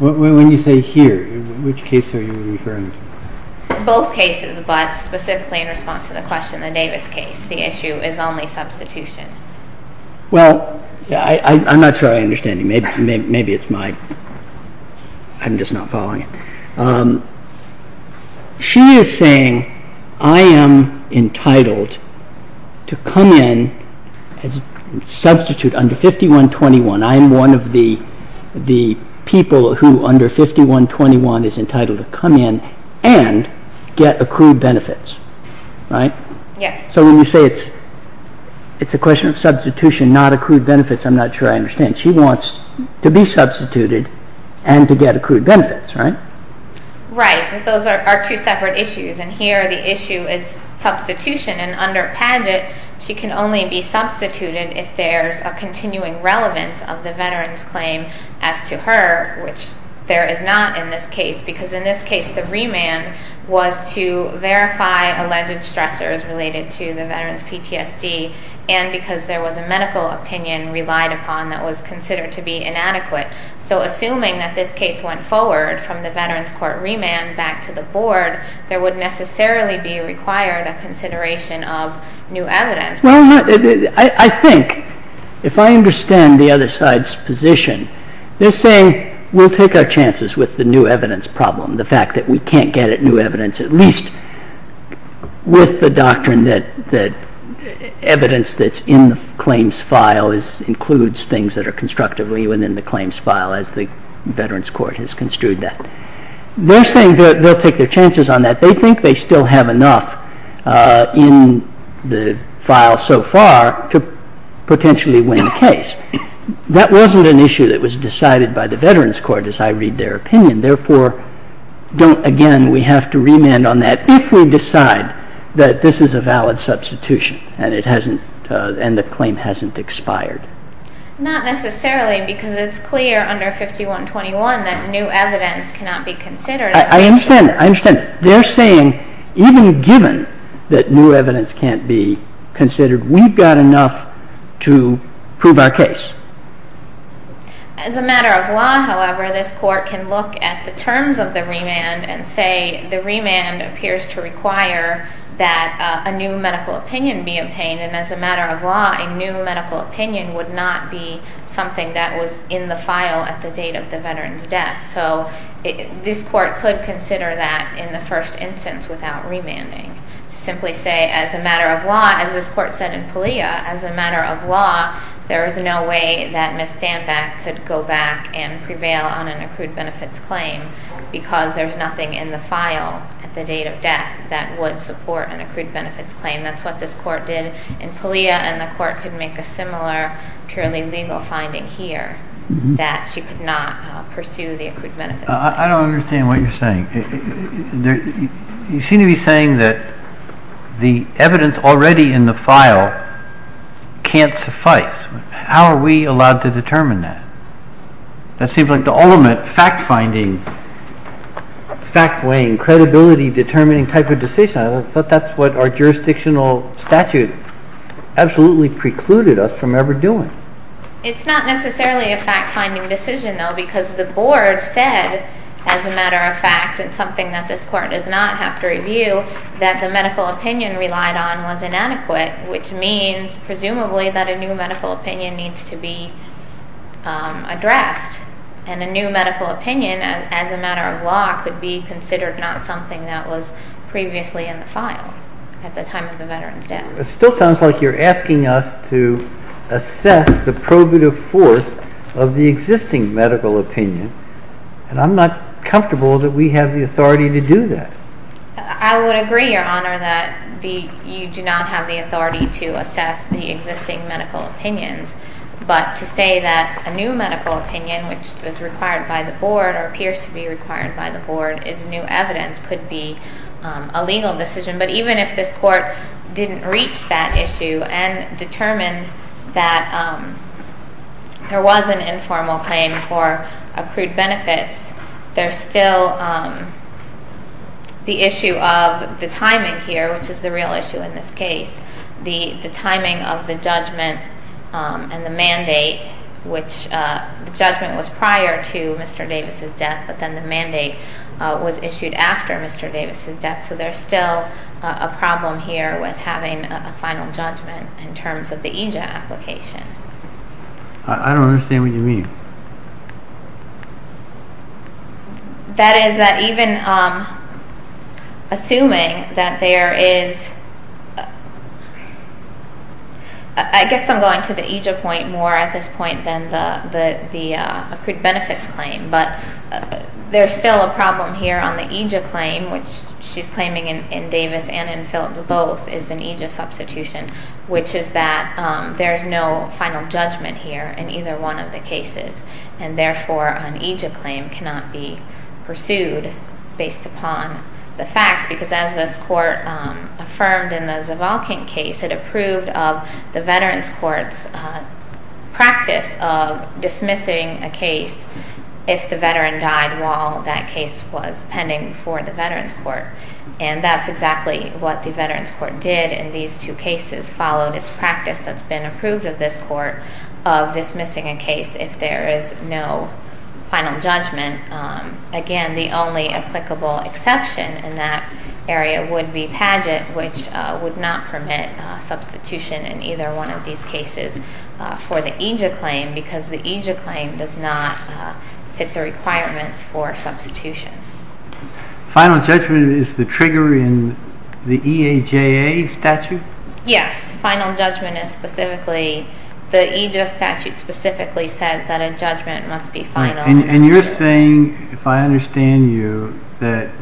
When you say here, which case are you referring to? Both cases, but specifically in response to the question in David's case, the issue is only substitution. Well, I'm not sure I understand you. Maybe it's my... I'm just not following. She is saying, I am entitled to come in and substitute under 5121. I am one of the people who, under 5121, is entitled to come in and get accrued benefits. Right? Yes. So when you say it's a question of substitution, not accrued benefits, I'm not sure I understand. She wants to be substituted and to get accrued benefits, right? Right. And those are two separate issues. And here, the issue is substitution. And under Padgett, she can only be substituted if there is a continuing relevance of the veteran's claim as to her, which there is not in this case, because in this case, the remand was to verify alleged structures related to the veteran's PTSD and because there was a medical opinion relied upon that was considered to be inadequate. So assuming that this case went forward from the veteran's court remand back to the board, there would necessarily be required a consideration of new evidence. I think, if I understand the other side's position, they're saying we'll take our chances with the new evidence problem, the fact that we can't get at new evidence at least with the doctrine that evidence that's in the claims file includes things that are constructively within the claims file, as the veteran's court has construed that. They're saying they'll take their chances on that. They think they still have enough in the file so far to potentially win the case. That wasn't an issue that was decided by the veteran's court, as I read their opinion. Therefore, again, we have to remand on that if we decide that this is a valid substitution and the claim hasn't expired. Not necessarily, because it's clear under 5121 that new evidence cannot be considered. I understand that. I understand that. They're saying even given that new evidence can't be considered, we've got enough to prove our case. As a matter of law, however, this court can look at the terms of the remand and say the remand appears to require that a new medical opinion be obtained, and as a matter of law, a new medical opinion would not be something that was in the file at the date of the veteran's death. So this court could consider that in the first instance without remanding. Simply say, as a matter of law, and this court said in PALEA, as a matter of law, there is no way that Ms. Standbeck could go back and prevail on an accrued benefits claim because there's nothing in the file at the date of death that would support an accrued benefits claim. That's what this court did in PALEA, and the court could make a similar purely legal finding here, that she could not pursue the accrued benefits claim. I don't understand what you're saying. You seem to be saying that the evidence already in the file can't suffice. How are we allowed to determine that? That seems like the ultimate fact-finding, fact-laying, credibility-determining type of decision. I thought that's what our jurisdictional statute absolutely precluded us from ever doing. It's not necessarily a fact-finding decision, though, because the board said, as a matter of fact, it's something that this court does not have to review, that the medical opinion relied on was inadequate, which means, presumably, that a new medical opinion needs to be addressed, and a new medical opinion, as a matter of law, could be considered not something that was previously in the file at the time of the veteran's death. It still sounds like you're asking us to assess the probative force of the existing medical opinion, and I'm not comfortable that we have the authority to do that. I would agree, Your Honor, that you do not have the authority to assess the existing medical opinion, but to say that a new medical opinion, which is required by the board or appears to be required by the board as new evidence, could be a legal decision. But even if this court didn't reach that issue and determined that there was an informal claim for approved benefits, there's still the issue of the timing here, which is the real issue in this case, the timing of the judgment and the mandate, which the judgment was prior to Mr. Davis' death, so there's still a problem here with having a final judgment in terms of the EJIA application. I don't understand what you mean. That is, even assuming that there is... I guess I'm going to the EJIA point more at this point than the approved benefits claim, but there's still a problem here on the EJIA claim, which she's claiming in Davis and in Phillips, both, is an EJIA substitution, which is that there's no final judgment here in either one of the cases, and therefore an EJIA claim cannot be pursued based upon the fact, because as this court affirmed in the Zavalkin case, it approved of the Veterans Court's practice of dismissing a case if the veteran died while that case was pending for the Veterans Court, and that's exactly what the Veterans Court did in these two cases, followed its practice that's been approved of this court of dismissing a case if there is no final judgment. Again, the only applicable exception in that area would be Padgett, which would not permit substitution in either one of these cases for the EJIA claim, because the EJIA claim does not fit the requirements for substitution. Final judgment is the trigger in the EAJA statute? Yes. Final judgment is specifically... The EJIA statute specifically says that a judgment must be final. And you're saying, if I understand you, that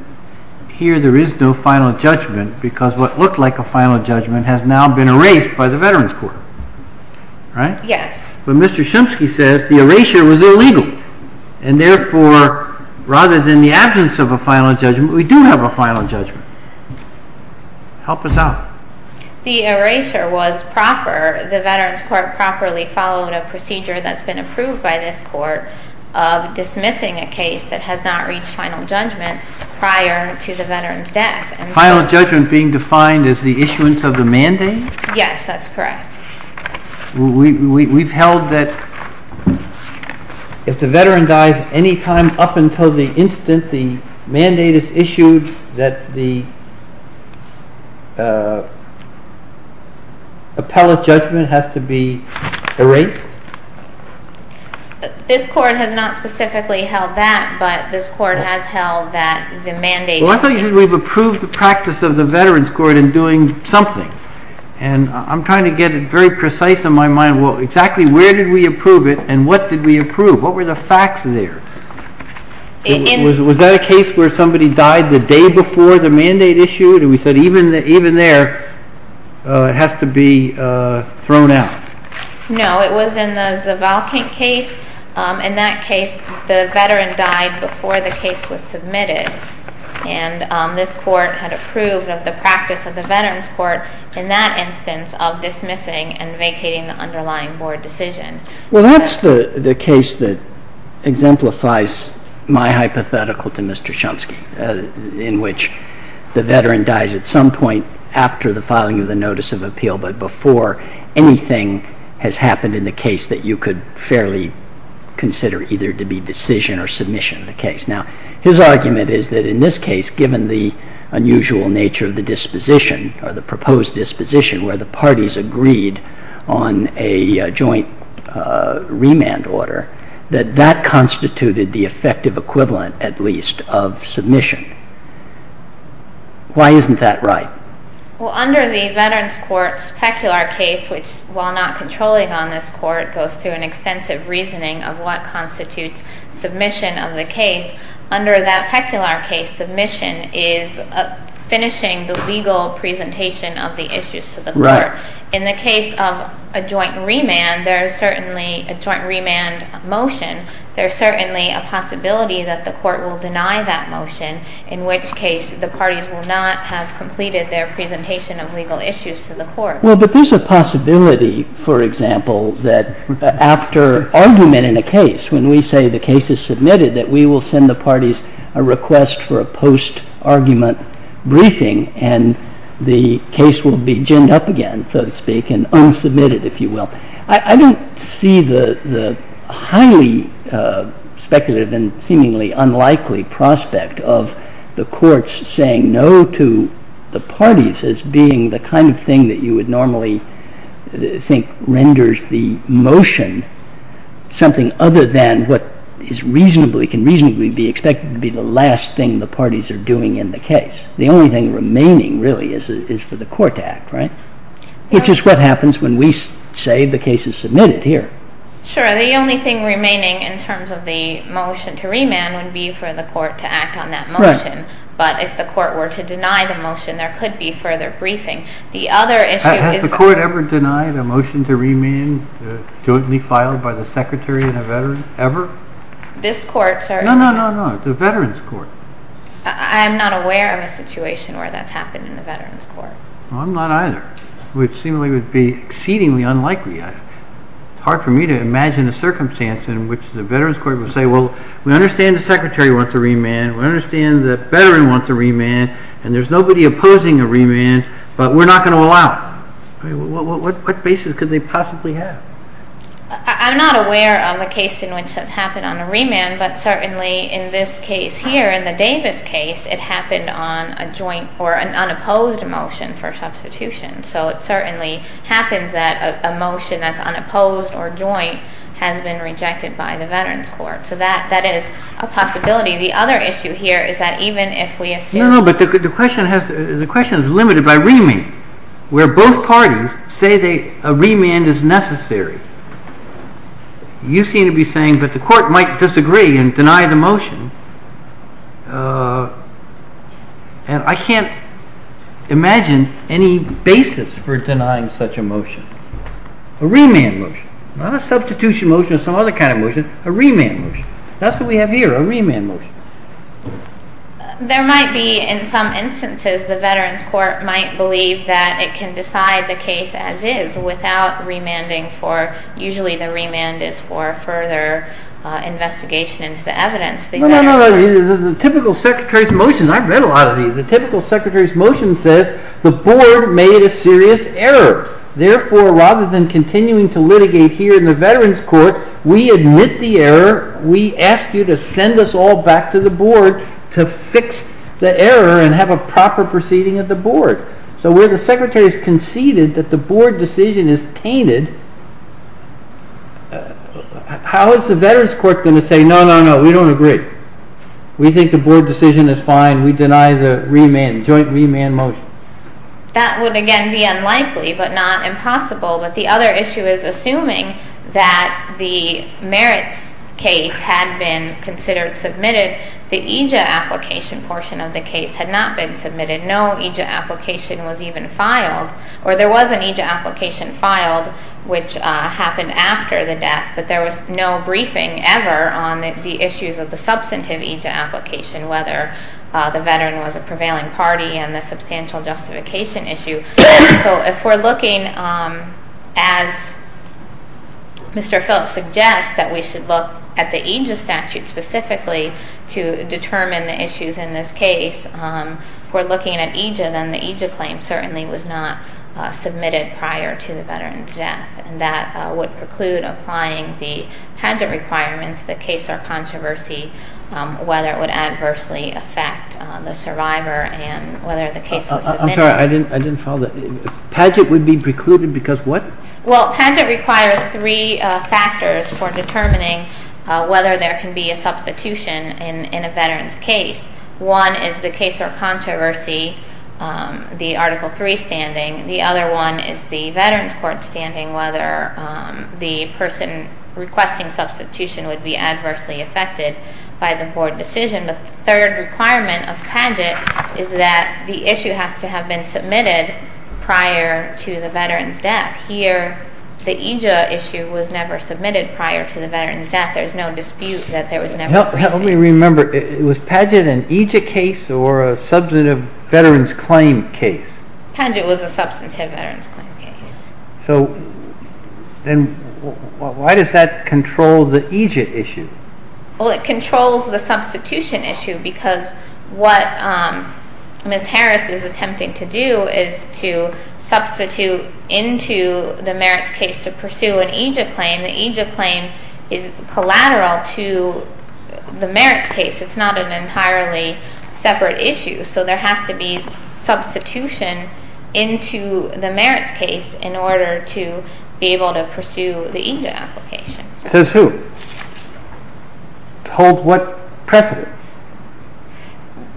here there is no final judgment, because what looked like a final judgment has now been erased by the Veterans Court, right? Yes. But Mr. Shimsky says the erasure was illegal, and therefore rather than the absence of a final judgment, we do have a final judgment. Help us out. The erasure was proper. The Veterans Court properly followed a procedure that's been approved by this court of dismissing a case that has not reached final judgment prior to the veteran's death. Final judgment being defined as the issuance of the mandate? Yes, that's correct. We've held that if the veteran dies, any time up until the instant the mandate is issued, that the appellate judgment has to be erased? This court has not specifically held that, but this court has held that the mandate... Well, I thought you said we've approved the practice of the Veterans Court in doing something, and I'm trying to get it very precise in my mind. Well, exactly where did we approve it, and what did we approve? What were the facts there? Was that a case where somebody died the day before the mandate issued, and we said even there it has to be thrown out? No, it was in the Zavalkyte case. In that case, the veteran died before the case was submitted, and this court had approved of the practice of the Veterans Court in that instance of dismissing and vacating the underlying board decision. Well, that's the case that exemplifies my hypothetical to Mr. Shumsky, in which the veteran dies at some point after the filing of the notice of appeal, but before anything has happened in the case that you could fairly consider either to be decision or submission of the case. Now, his argument is that in this case, given the unusual nature of the disposition or the proposed disposition where the parties agreed on a joint remand order, that that constituted the effective equivalent, at least, of submission. Why isn't that right? Well, under the Veterans Court's peculiar case, which while not controlling on this court, goes through an extensive reasoning of what constitutes submission of the case, under that peculiar case, submission is finishing the legal presentation of the issues to the court. In the case of a joint remand, there is certainly a joint remand motion. There's certainly a possibility that the court will deny that motion, in which case the parties will not have completed their presentation of legal issues to the court. Well, but there's a possibility, for example, that after argument in a case, when we say the case is submitted, that we will send the parties a request for a post-argument briefing and the case will be ginned up again, so to speak, and unsubmitted, if you will. I don't see the highly speculative and seemingly unlikely prospect of the courts saying no to the parties as being the kind of thing that you would normally think renders the motion something other than what can reasonably be expected to be the last thing the parties are doing in the case. The only thing remaining, really, is for the court to act, right? Which is what happens when we say the case is submitted here. Sure. The only thing remaining in terms of the motion to remand would be for the court to act on that motion. Right. But if the court were to deny the motion, there could be further briefing. The other issue is... Has the court ever denied a motion to remand that shouldn't be filed by the secretary and the veteran, ever? This court, sir... No, no, no, no. The veterans' court. I'm not aware of a situation where that's happened in the veterans' court. Well, I'm not either. It would seem it would be exceedingly unlikely. It's hard for me to imagine a circumstance in which the veterans' court would say, well, we understand the secretary wants a remand, we understand the veteran wants a remand, and there's nobody opposing the remand, but we're not going to allow it. What basis could they possibly have? I'm not aware of a case in which that's happened on a remand, but certainly in this case here, in the Davis case, it happened on a joint for an unopposed motion for substitution. So it certainly happens that a motion that's unopposed or joint has been rejected by the veterans' court. So that is a possibility. The other issue here is that even if we assume... No, no, but the question is limited by remand, where both parties say a remand is necessary. You seem to be saying that the court might disagree and deny the motion. I can't imagine any basis for denying such a motion. A remand motion, not a substitution motion or some other kind of motion, a remand motion. That's what we have here, a remand motion. There might be, in some instances, the veterans' court might believe that it can decide the case as is without remanding for... Usually the remand is for further investigation into the evidence. The typical secretary's motion, I've read a lot of these, the typical secretary's motion says the board made a serious error. Therefore, rather than continuing to litigate here in the veterans' court, we admit the error. We ask you to send us all back to the board to fix the error and have a proper proceeding of the board. So where the secretary has conceded that the board decision is tainted, how is the veterans' court going to say, no, no, no, we don't agree. We think the board decision is fine. We deny the joint remand motion. That would, again, be unlikely, but not impossible. But the other issue is assuming that the merits case had been considered submitted, the EJIT application portion of the case had not been submitted. No EJIT application was even filed. Or there was an EJIT application filed, which happened after the death, but there was no briefing ever on the issues of the substantive EJIT application, whether the veteran was a prevailing party and the substantial justification issue. So if we're looking, as Mr. Phillips suggests, that we should look at the EJIT statute specifically to determine the issues in this case, we're looking at EJIT and the EJIT claim certainly was not submitted prior to the veteran's death. That would preclude applying the transit requirements, the case of controversy, whether it would adversely affect the survivor and whether the case was submitted. I'm sorry, I didn't follow that. Transit would be precluded because what? Well, transit requires three factors for determining whether there can be a substitution in a veteran's case. One is the case of controversy, the Article III standing. The other one is the veteran's court standing, whether the person requesting substitution would be adversely affected by the board decision. The third requirement of PADGET is that the issue has to have been submitted prior to the veteran's death. Here, the EJIT issue was never submitted prior to the veteran's death. There's no dispute that there was never. Let me remember. Was PADGET an EJIT case or a substantive veteran's claim case? PADGET was a substantive veteran's claim case. So then why does that control the EJIT issue? Well, it controls the substitution issue because what Ms. Harris is attempting to do is to substitute into the merits case to pursue an EJIT claim. The EJIT claim is collateral to the merits case. It's not an entirely separate issue. So there has to be substitution into the merits case in order to be able to pursue the EJIT application. Pursue? Hold what precedent?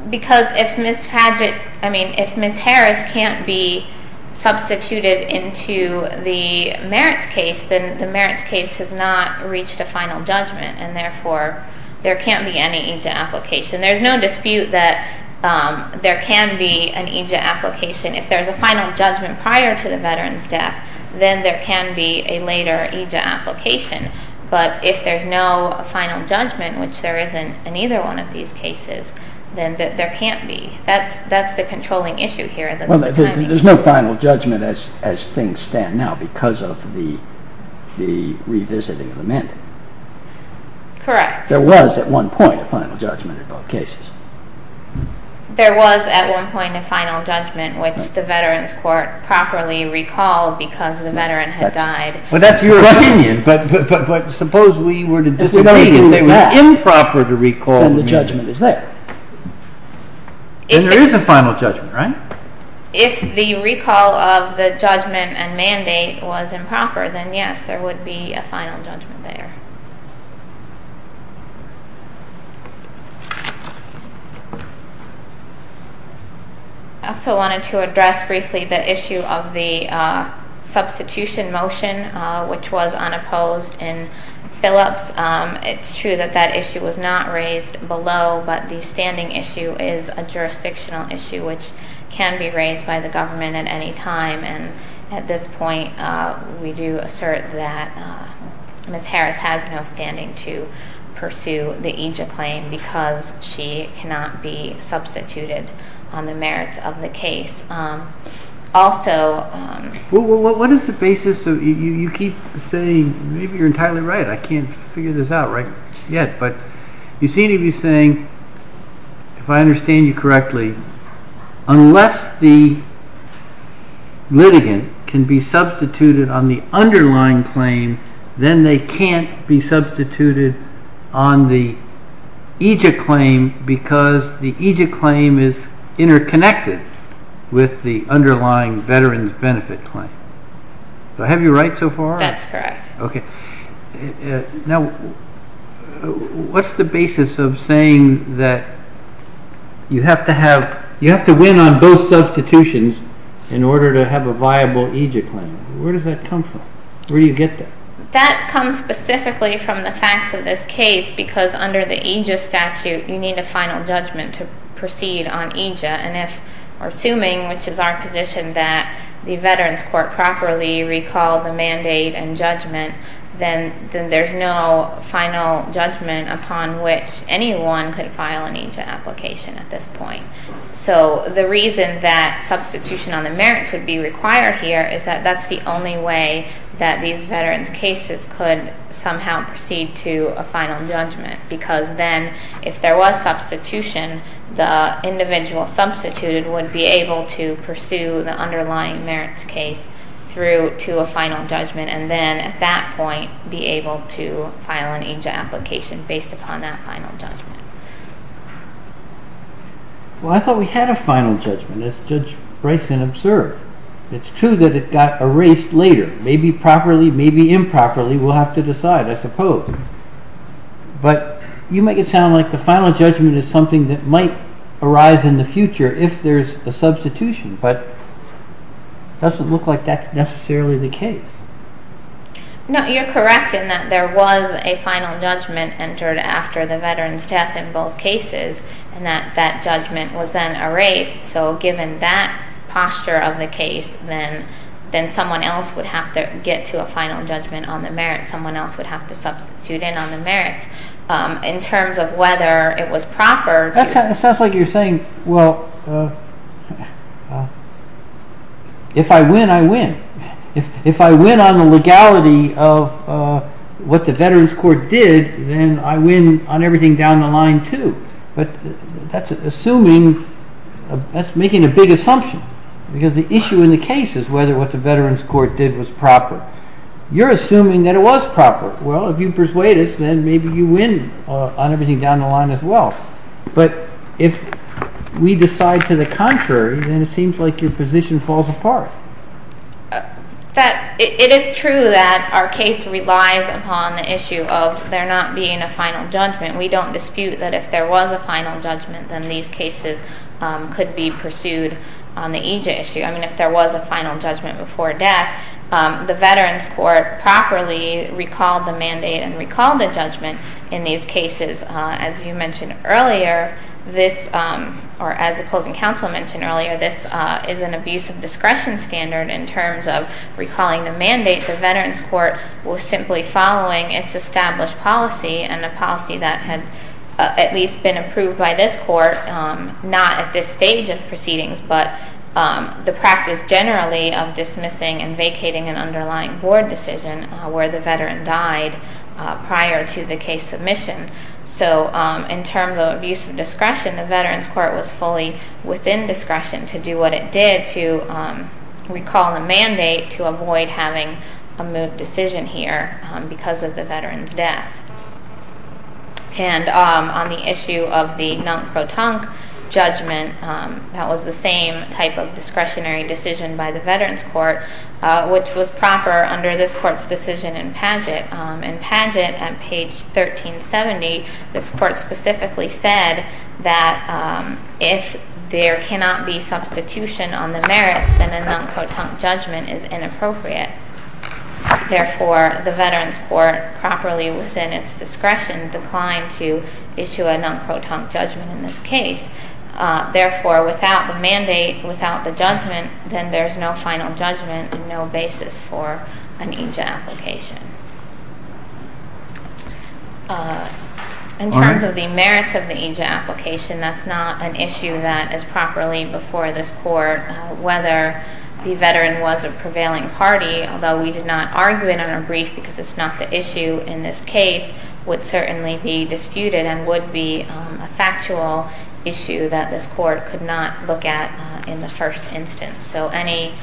Because if Ms. Harris can't be substituted into the merits case, then the merits case has not reached a final judgment, and therefore there can't be any EJIT application. There's no dispute that there can be an EJIT application. If there's a final judgment prior to the veteran's death, then there can be a later EJIT application. But if there's no final judgment, which there isn't in either one of these cases, then there can't be. That's the controlling issue here. There's no final judgment as things stand now because of the revisiting of the mandate. Correct. There was at one point a final judgment in both cases. There was at one point a final judgment, which the veteran's court properly recalled because the veteran had died. But that's your opinion. But suppose we were to disagree and it was improper to recall the mandate. Then the judgment is there. Then there is a final judgment, right? If the recall of the judgment and mandate was improper, then yes, there would be a final judgment there. I also wanted to address briefly the issue of the substitution motion, which was unopposed in Phillips. It's true that that issue was not raised below, but the standing issue is a jurisdictional issue, which can be raised by the government at any time. At this point, we do assert that Ms. Harris has no standing to pursue the ANJA claim because she cannot be substituted on the merits of the case. Also – What is the basis of – you keep saying – maybe you're entirely right. I can't figure this out yet. But you seem to be saying, if I understand you correctly, unless the litigant can be substituted on the underlying claim, then they can't be substituted on the EJIC claim because the EJIC claim is interconnected with the underlying veteran's benefit claim. So, am I right so far? That's right. Okay. Now, what's the basis of saying that you have to win on both substitutions in order to have a viable EJIC claim? Where does that come from? Where do you get that? That comes specifically from the fact that this case, because under the EJIC statute, you need a final judgment to proceed on EJIC. And if we're assuming, which is our position, that the Veterans Court properly recalled the mandate and judgment, then there's no final judgment upon which anyone can file an EJIC application at this point. So, the reason that substitution on the merits would be required here is that that's the only way that these veterans' cases could somehow proceed to a final judgment. Because then, if there was substitution, the individual substituted would be able to pursue the underlying merits case through to a final judgment and then, at that point, be able to file an EJIC application based upon that final judgment. Well, I thought we had a final judgment, as Judge Bryson observed. It's true that it got erased later. Maybe properly, maybe improperly, we'll have to decide, I suppose. But you make it sound like the final judgment is something that might arise in the future if there's a substitution, but it doesn't look like that's necessarily the case. No, you're correct in that there was a final judgment entered after the veteran's death in both cases and that that judgment was then erased. So, given that posture of the case, then someone else would have to get to a final judgment on the merits. Someone else would have to substitute in on the merits. In terms of whether it was proper... It sounds like you're saying, well, if I win, I win. If I win on the legality of what the veterans' court did, then I win on everything down the line, too. But that's assuming, that's making a big assumption. Because the issue in the case is whether what the veterans' court did was proper. You're assuming that it was proper. Well, if you persuade us, then maybe you win on everything down the line as well. But if we decide to the contrary, then it seems like your position falls apart. It is true that our case relies upon the issue of there not being a final judgment. We don't dispute that if there was a final judgment, then these cases could be pursued on the EJ issue. I mean, if there was a final judgment before death, the veterans' court properly recalled the mandate and recalled the judgment in these cases. As you mentioned earlier, or as the closing counsel mentioned earlier, this is an abuse of discretion standard in terms of recalling the mandate. The veterans' court was simply following its established policy, and the policy that had at least been approved by this court, not at this stage of proceedings, but the practice generally of dismissing and vacating an underlying board decision where the veteran died prior to the case submission. So in terms of abuse of discretion, the veterans' court was fully within discretion to do what it did to recall the mandate to avoid having a moved decision here because of the veteran's death. And on the issue of the non-proton judgment, that was the same type of discretionary decision by the veterans' court, which was proper under this court's decision in Pageant. In Pageant, on page 1370, this court specifically said that if there cannot be substitution on the merits, then a non-proton judgment is inappropriate. Therefore, the veterans' court, properly within its discretion, declined to issue a non-proton judgment in this case. Therefore, without the mandate, without the judgment, then there's no final judgment and no basis for an EJ application. In terms of the merits of the EJ application, that's not an issue that is properly before this court, whether the veteran was a prevailing party. Although we did not argue it in our brief because it's not the issue in this case, it would certainly be disputed and would be a factual issue that this court could not look at in the first instance. So any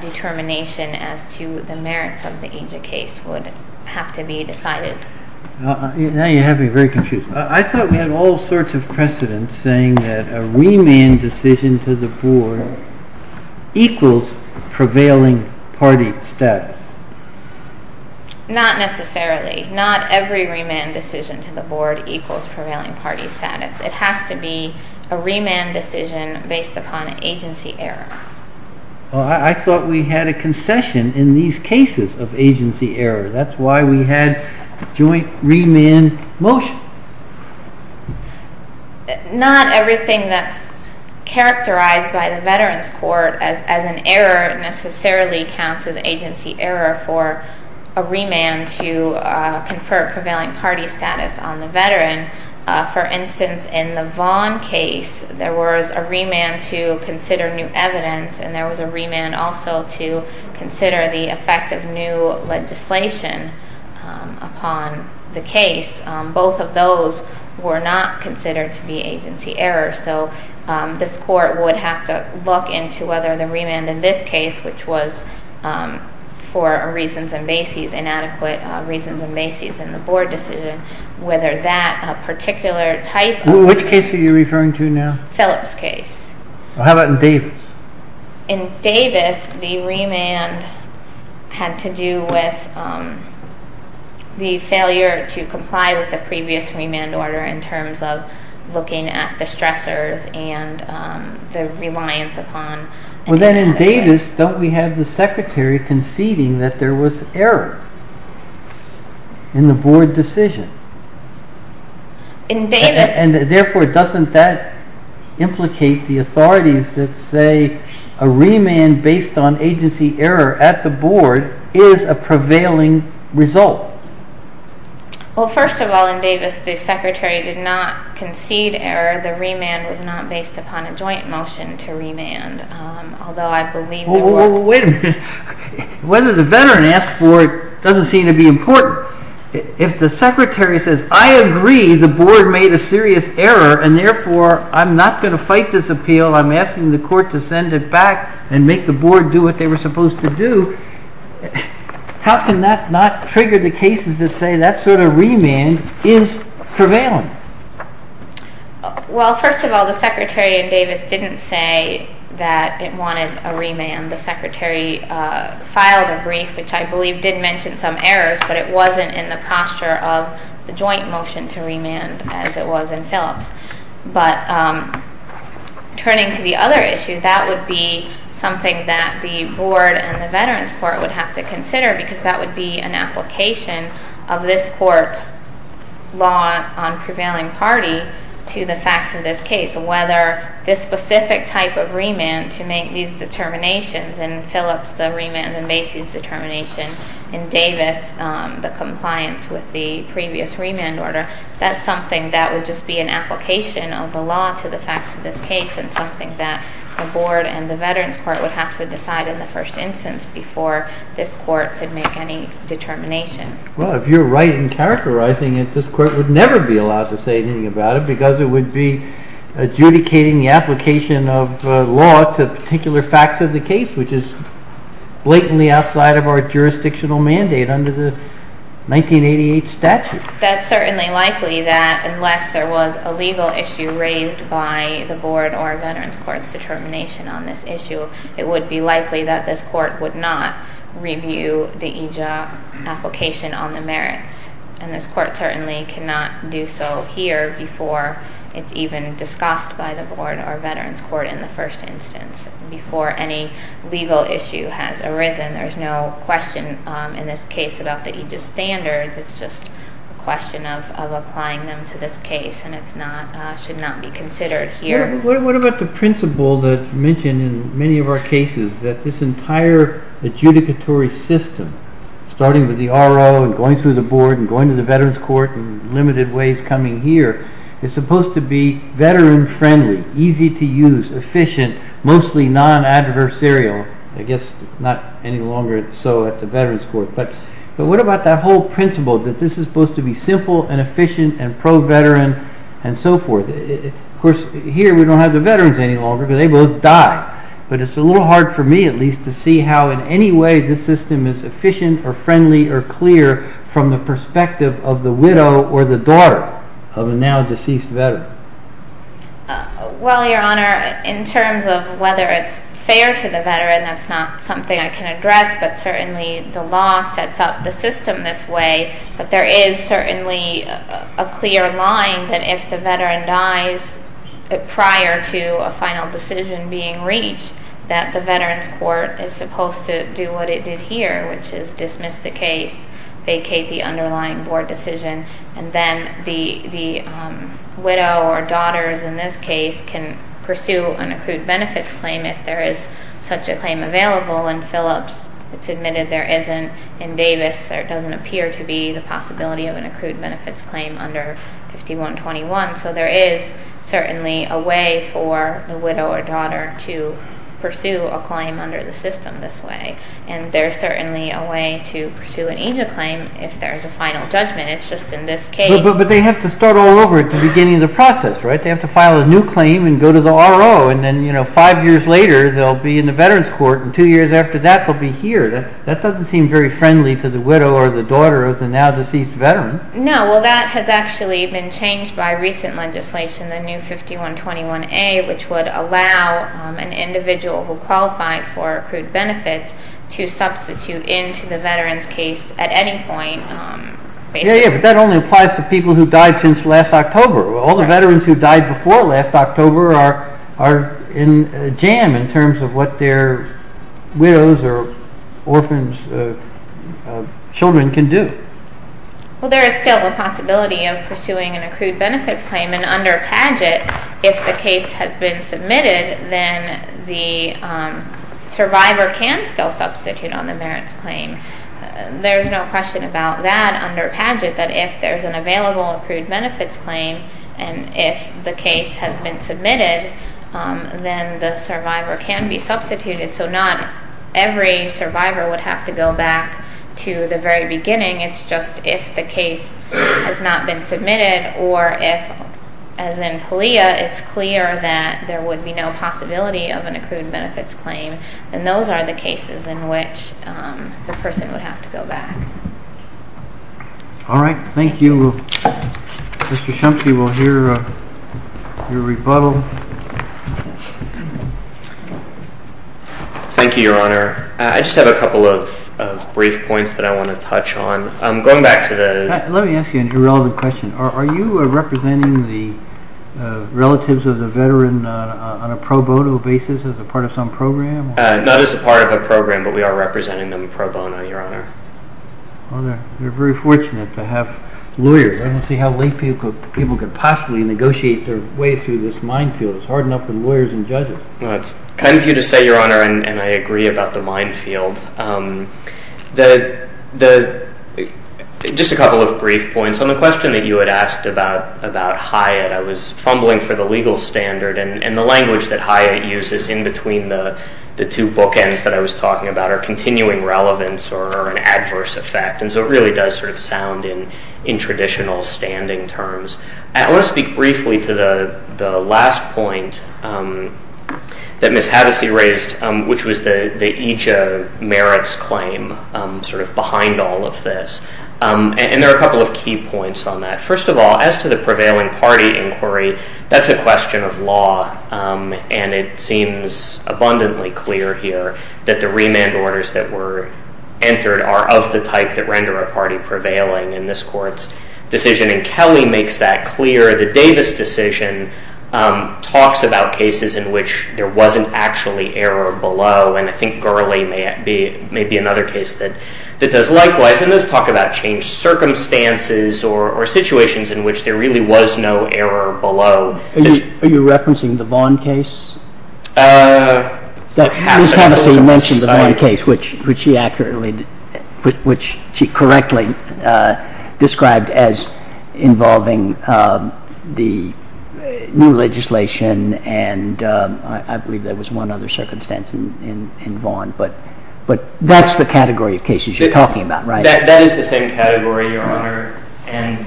determination as to the merits of the EJ case would have to be decided. Now you have me very confused. I thought we had all sorts of precedents saying that a remand decision to the board equals prevailing party status. Not necessarily. Not every remand decision to the board equals prevailing party status. It has to be a remand decision based upon agency error. I thought we had a concession in these cases of agency error. That's why we had joint remand motion. Not everything that's characterized by the Veterans Court as an error necessarily counts as agency error for a remand to confer prevailing party status on the veteran. For instance, in the Vaughn case, there was a remand to consider new evidence and there was a remand also to consider the effect of new legislation upon the case. Both of those were not considered to be agency errors. So this court would have to look into whether the remand in this case, which was for reasons and basis, inadequate reasons and basis in the board decision, whether that particular type of... Which case are you referring to now? Phillips case. How about in Davis? In Davis, the remand had to do with the failure to comply with the previous remand order in terms of looking at the stressors and the reliance upon... Well, then in Davis, don't we have the secretary conceding that there was error in the board decision? In Davis... There are authorities that say a remand based on agency error at the board is a prevailing result. Well, first of all, in Davis, the secretary did not concede error. The remand was not based upon a joint motion to remand, although I believe... Well, wait a minute. Whether the veteran asked for it doesn't seem to be important. If the secretary says, I agree the board made a serious error and, therefore, I'm not going to fight this appeal. I'm asking the court to send it back and make the board do what they were supposed to do, how can that not trigger the cases to say that sort of remand is prevailing? Well, first of all, the secretary in Davis didn't say that it wanted a remand. The secretary filed a brief, which I believe did mention some errors, but it wasn't in the posture of the joint motion to remand as it was in Phillips. But turning to the other issue, that would be something that the board and the veterans court would have to consider because that would be an application of this court's law on prevailing parties to the facts of this case. Whether this specific type of remand to make these determinations, in Phillips, the remand and basis determination, in Davis, the compliance with the previous remand order, that's something that would just be an application of the law to the facts of this case and something that the board and the veterans court would have to decide in the first instance before this court could make any determination. Well, if you're right in characterizing it, this court would never be allowed to say anything about it because it would be adjudicating the application of the law to particular facts of the case, which is blatantly outside of our jurisdictional mandate under the 1988 statute. That's certainly likely that unless there was a legal issue raised by the board or veterans court's determination on this issue, it would be likely that this court would not review the EJOP application on the merits. This court certainly cannot do so here before it's even discussed by the board or veterans court in the first instance, before any legal issue has arisen. There's no question in this case about the EJIS standards. It's just a question of applying them to this case and it should not be considered here. What about the principle that's mentioned in many of our cases, that this entire adjudicatory system, starting with the RO and going through the board and going to the veterans court in limited ways coming here, is supposed to be veteran-friendly, easy to use, efficient, mostly non-adversarial, I guess not any longer so at the veterans court. But what about that whole principle that this is supposed to be simple and efficient and pro-veteran and so forth? Of course, here we don't have the veterans any longer, but they both died. But it's a little hard for me at least to see how in any way this system is efficient or friendly or clear from the perspective of the widow or the daughter of a now-deceased veteran. Well, Your Honor, in terms of whether it's fair to the veteran, that's not something I can address, but certainly the law sets up the system this way. But there is certainly a clear line that if the veteran dies prior to a final decision being reached, that the veterans court is supposed to do what it did here, which is dismiss the case, vacate the underlying board decision, and then the widow or daughter, in this case, can pursue an accrued benefits claim if there is such a claim available. In Phillips, it's admitted there isn't. In Davis, there doesn't appear to be the possibility of an accrued benefits claim under 5121. So there is certainly a way for the widow or daughter to pursue a claim under the system this way. And there's certainly a way to pursue an EJA claim if there's a final judgment. It's just in this case. But they have to start all over at the beginning of the process, right? They have to file a new claim and go to the RO. And then, you know, five years later, they'll be in the veterans court. And two years after that, they'll be here. That doesn't seem very friendly to the widow or the daughter of the now deceased veteran. No. Well, that has actually been changed by recent legislation, the new 5121A, which would allow an individual who qualified for accrued benefits to substitute into the veterans case at any point. Yeah, yeah. But that only applies to people who died since last October. All the veterans who died before last October are in a jam in terms of what their widows or orphans' children can do. Well, there is still a possibility of pursuing an accrued benefits claim. And under Padgett, if the case has been submitted, then the survivor can still substitute on the veterans claim. There's no question about that under Padgett, that if there's an available accrued benefits claim and if the case has been submitted, then the survivor can be substituted. So not every survivor would have to go back to the very beginning. It's just if the case has not been submitted or if, as in Talia, it's clear that there would be no possibility of an accrued benefits claim, then those are the cases in which the person would have to go back. All right. Thank you. Mr. Shumke, we'll hear your rebuttal. Thank you, Your Honor. I just have a couple of brief points that I want to touch on. Going back to the – Let me ask you a relative question. Are you representing the relatives of the veteran on a pro bono basis as a part of some program? Not as a part of a program, but we are representing them pro bono, Your Honor. We're very fortunate to have lawyers. I don't see how lay people could possibly negotiate their way through this minefield. It's hard enough with lawyers and judges. Thank you to say, Your Honor, and I agree about the minefield. Just a couple of brief points. On the question that you had asked about Hyatt, I was fumbling for the legal standard, and the language that Hyatt uses in between the two bookends that I was talking about are continuing relevance or an adverse effect, and so it really does sort of sound in traditional standing terms. I want to speak briefly to the last point that Ms. Haddisy raised, which was the EJA merits claim sort of behind all of this, and there are a couple of key points on that. First of all, as to the prevailing party inquiry, that's a question of law, and it seems abundantly clear here that the remand orders that were entered are of the type that render a party prevailing in this court's decision, and Kelly makes that clear. The Davis decision talks about cases in which there wasn't actually error below, and I think Gurley may be another case that does likewise, and does talk about changed circumstances or situations in which there really was no error below. Are you referencing the Vaughn case? Ms. Haddisy mentioned the Vaughn case, which she correctly described as involving the new legislation, and I believe there was one other circumstance in Vaughn, but that's the category of cases you're talking about, right? That is the same category, Your Honor, and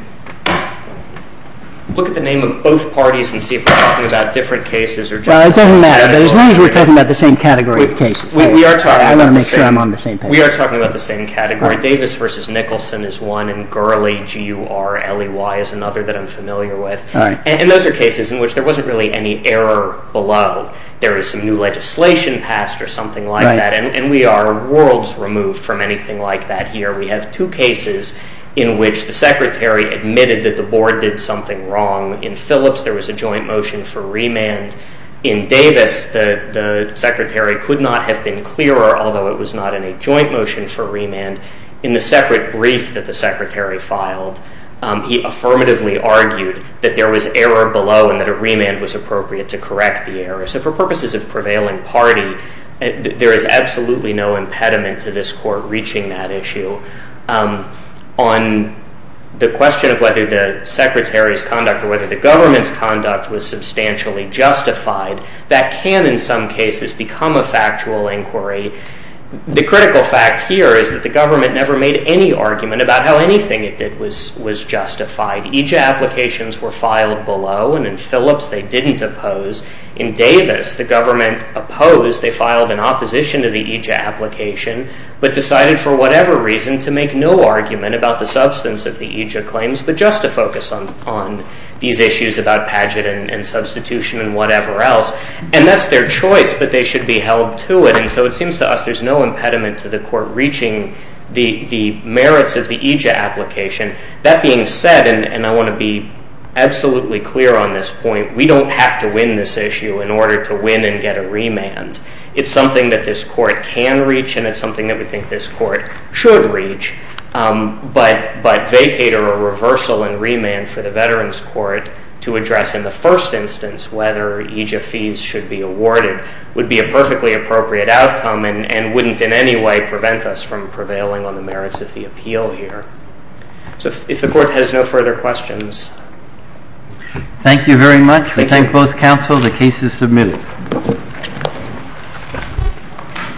look at the name of both parties and see if they're talking about different cases. It doesn't matter. As long as we're talking about the same category of cases. I want to make sure I'm on the same page. We are talking about the same category. Davis v. Nicholson is one, and Gurley, G-U-R-L-E-Y, is another that I'm familiar with, and those are cases in which there wasn't really any error below. There was some new legislation passed or something like that, and we are worlds removed from anything like that here. We have two cases in which the secretary admitted that the board did something wrong. In Phillips, there was a joint motion for remand. In Davis, the secretary could not have been clearer, although it was not in a joint motion for remand. In the separate brief that the secretary filed, he affirmatively argued that there was error below and that a remand was appropriate to correct the error. So for purposes of prevailing party, there is absolutely no impediment to this court reaching that issue. On the question of whether the secretary's conduct or whether the government's conduct was substantially justified, that can in some cases become a factual inquiry. The critical fact here is that the government never made any argument about how anything it did was justified. EJA applications were filed below, and in Phillips, they didn't oppose. In Davis, the government opposed. They filed in opposition to the EJA application but decided for whatever reason to make no argument about the substance of the EJA claims but just to focus on these issues about pageant and substitution and whatever else. And that's their choice, that they should be held to it. And so it seems to us there's no impediment to the court reaching the merits of the EJA application. That being said, and I want to be absolutely clear on this point, we don't have to win this issue in order to win and get a remand. It's something that this court can reach and it's something that we think this court should reach. But vacater or reversal and remand for the Veterans Court to address in the first instance whether EJA fees should be awarded would be a perfectly appropriate outcome and wouldn't in any way prevent us from prevailing on the merits of the appeal here. So if the court has no further questions. Thank you very much. We thank both counsel. The case is submitted.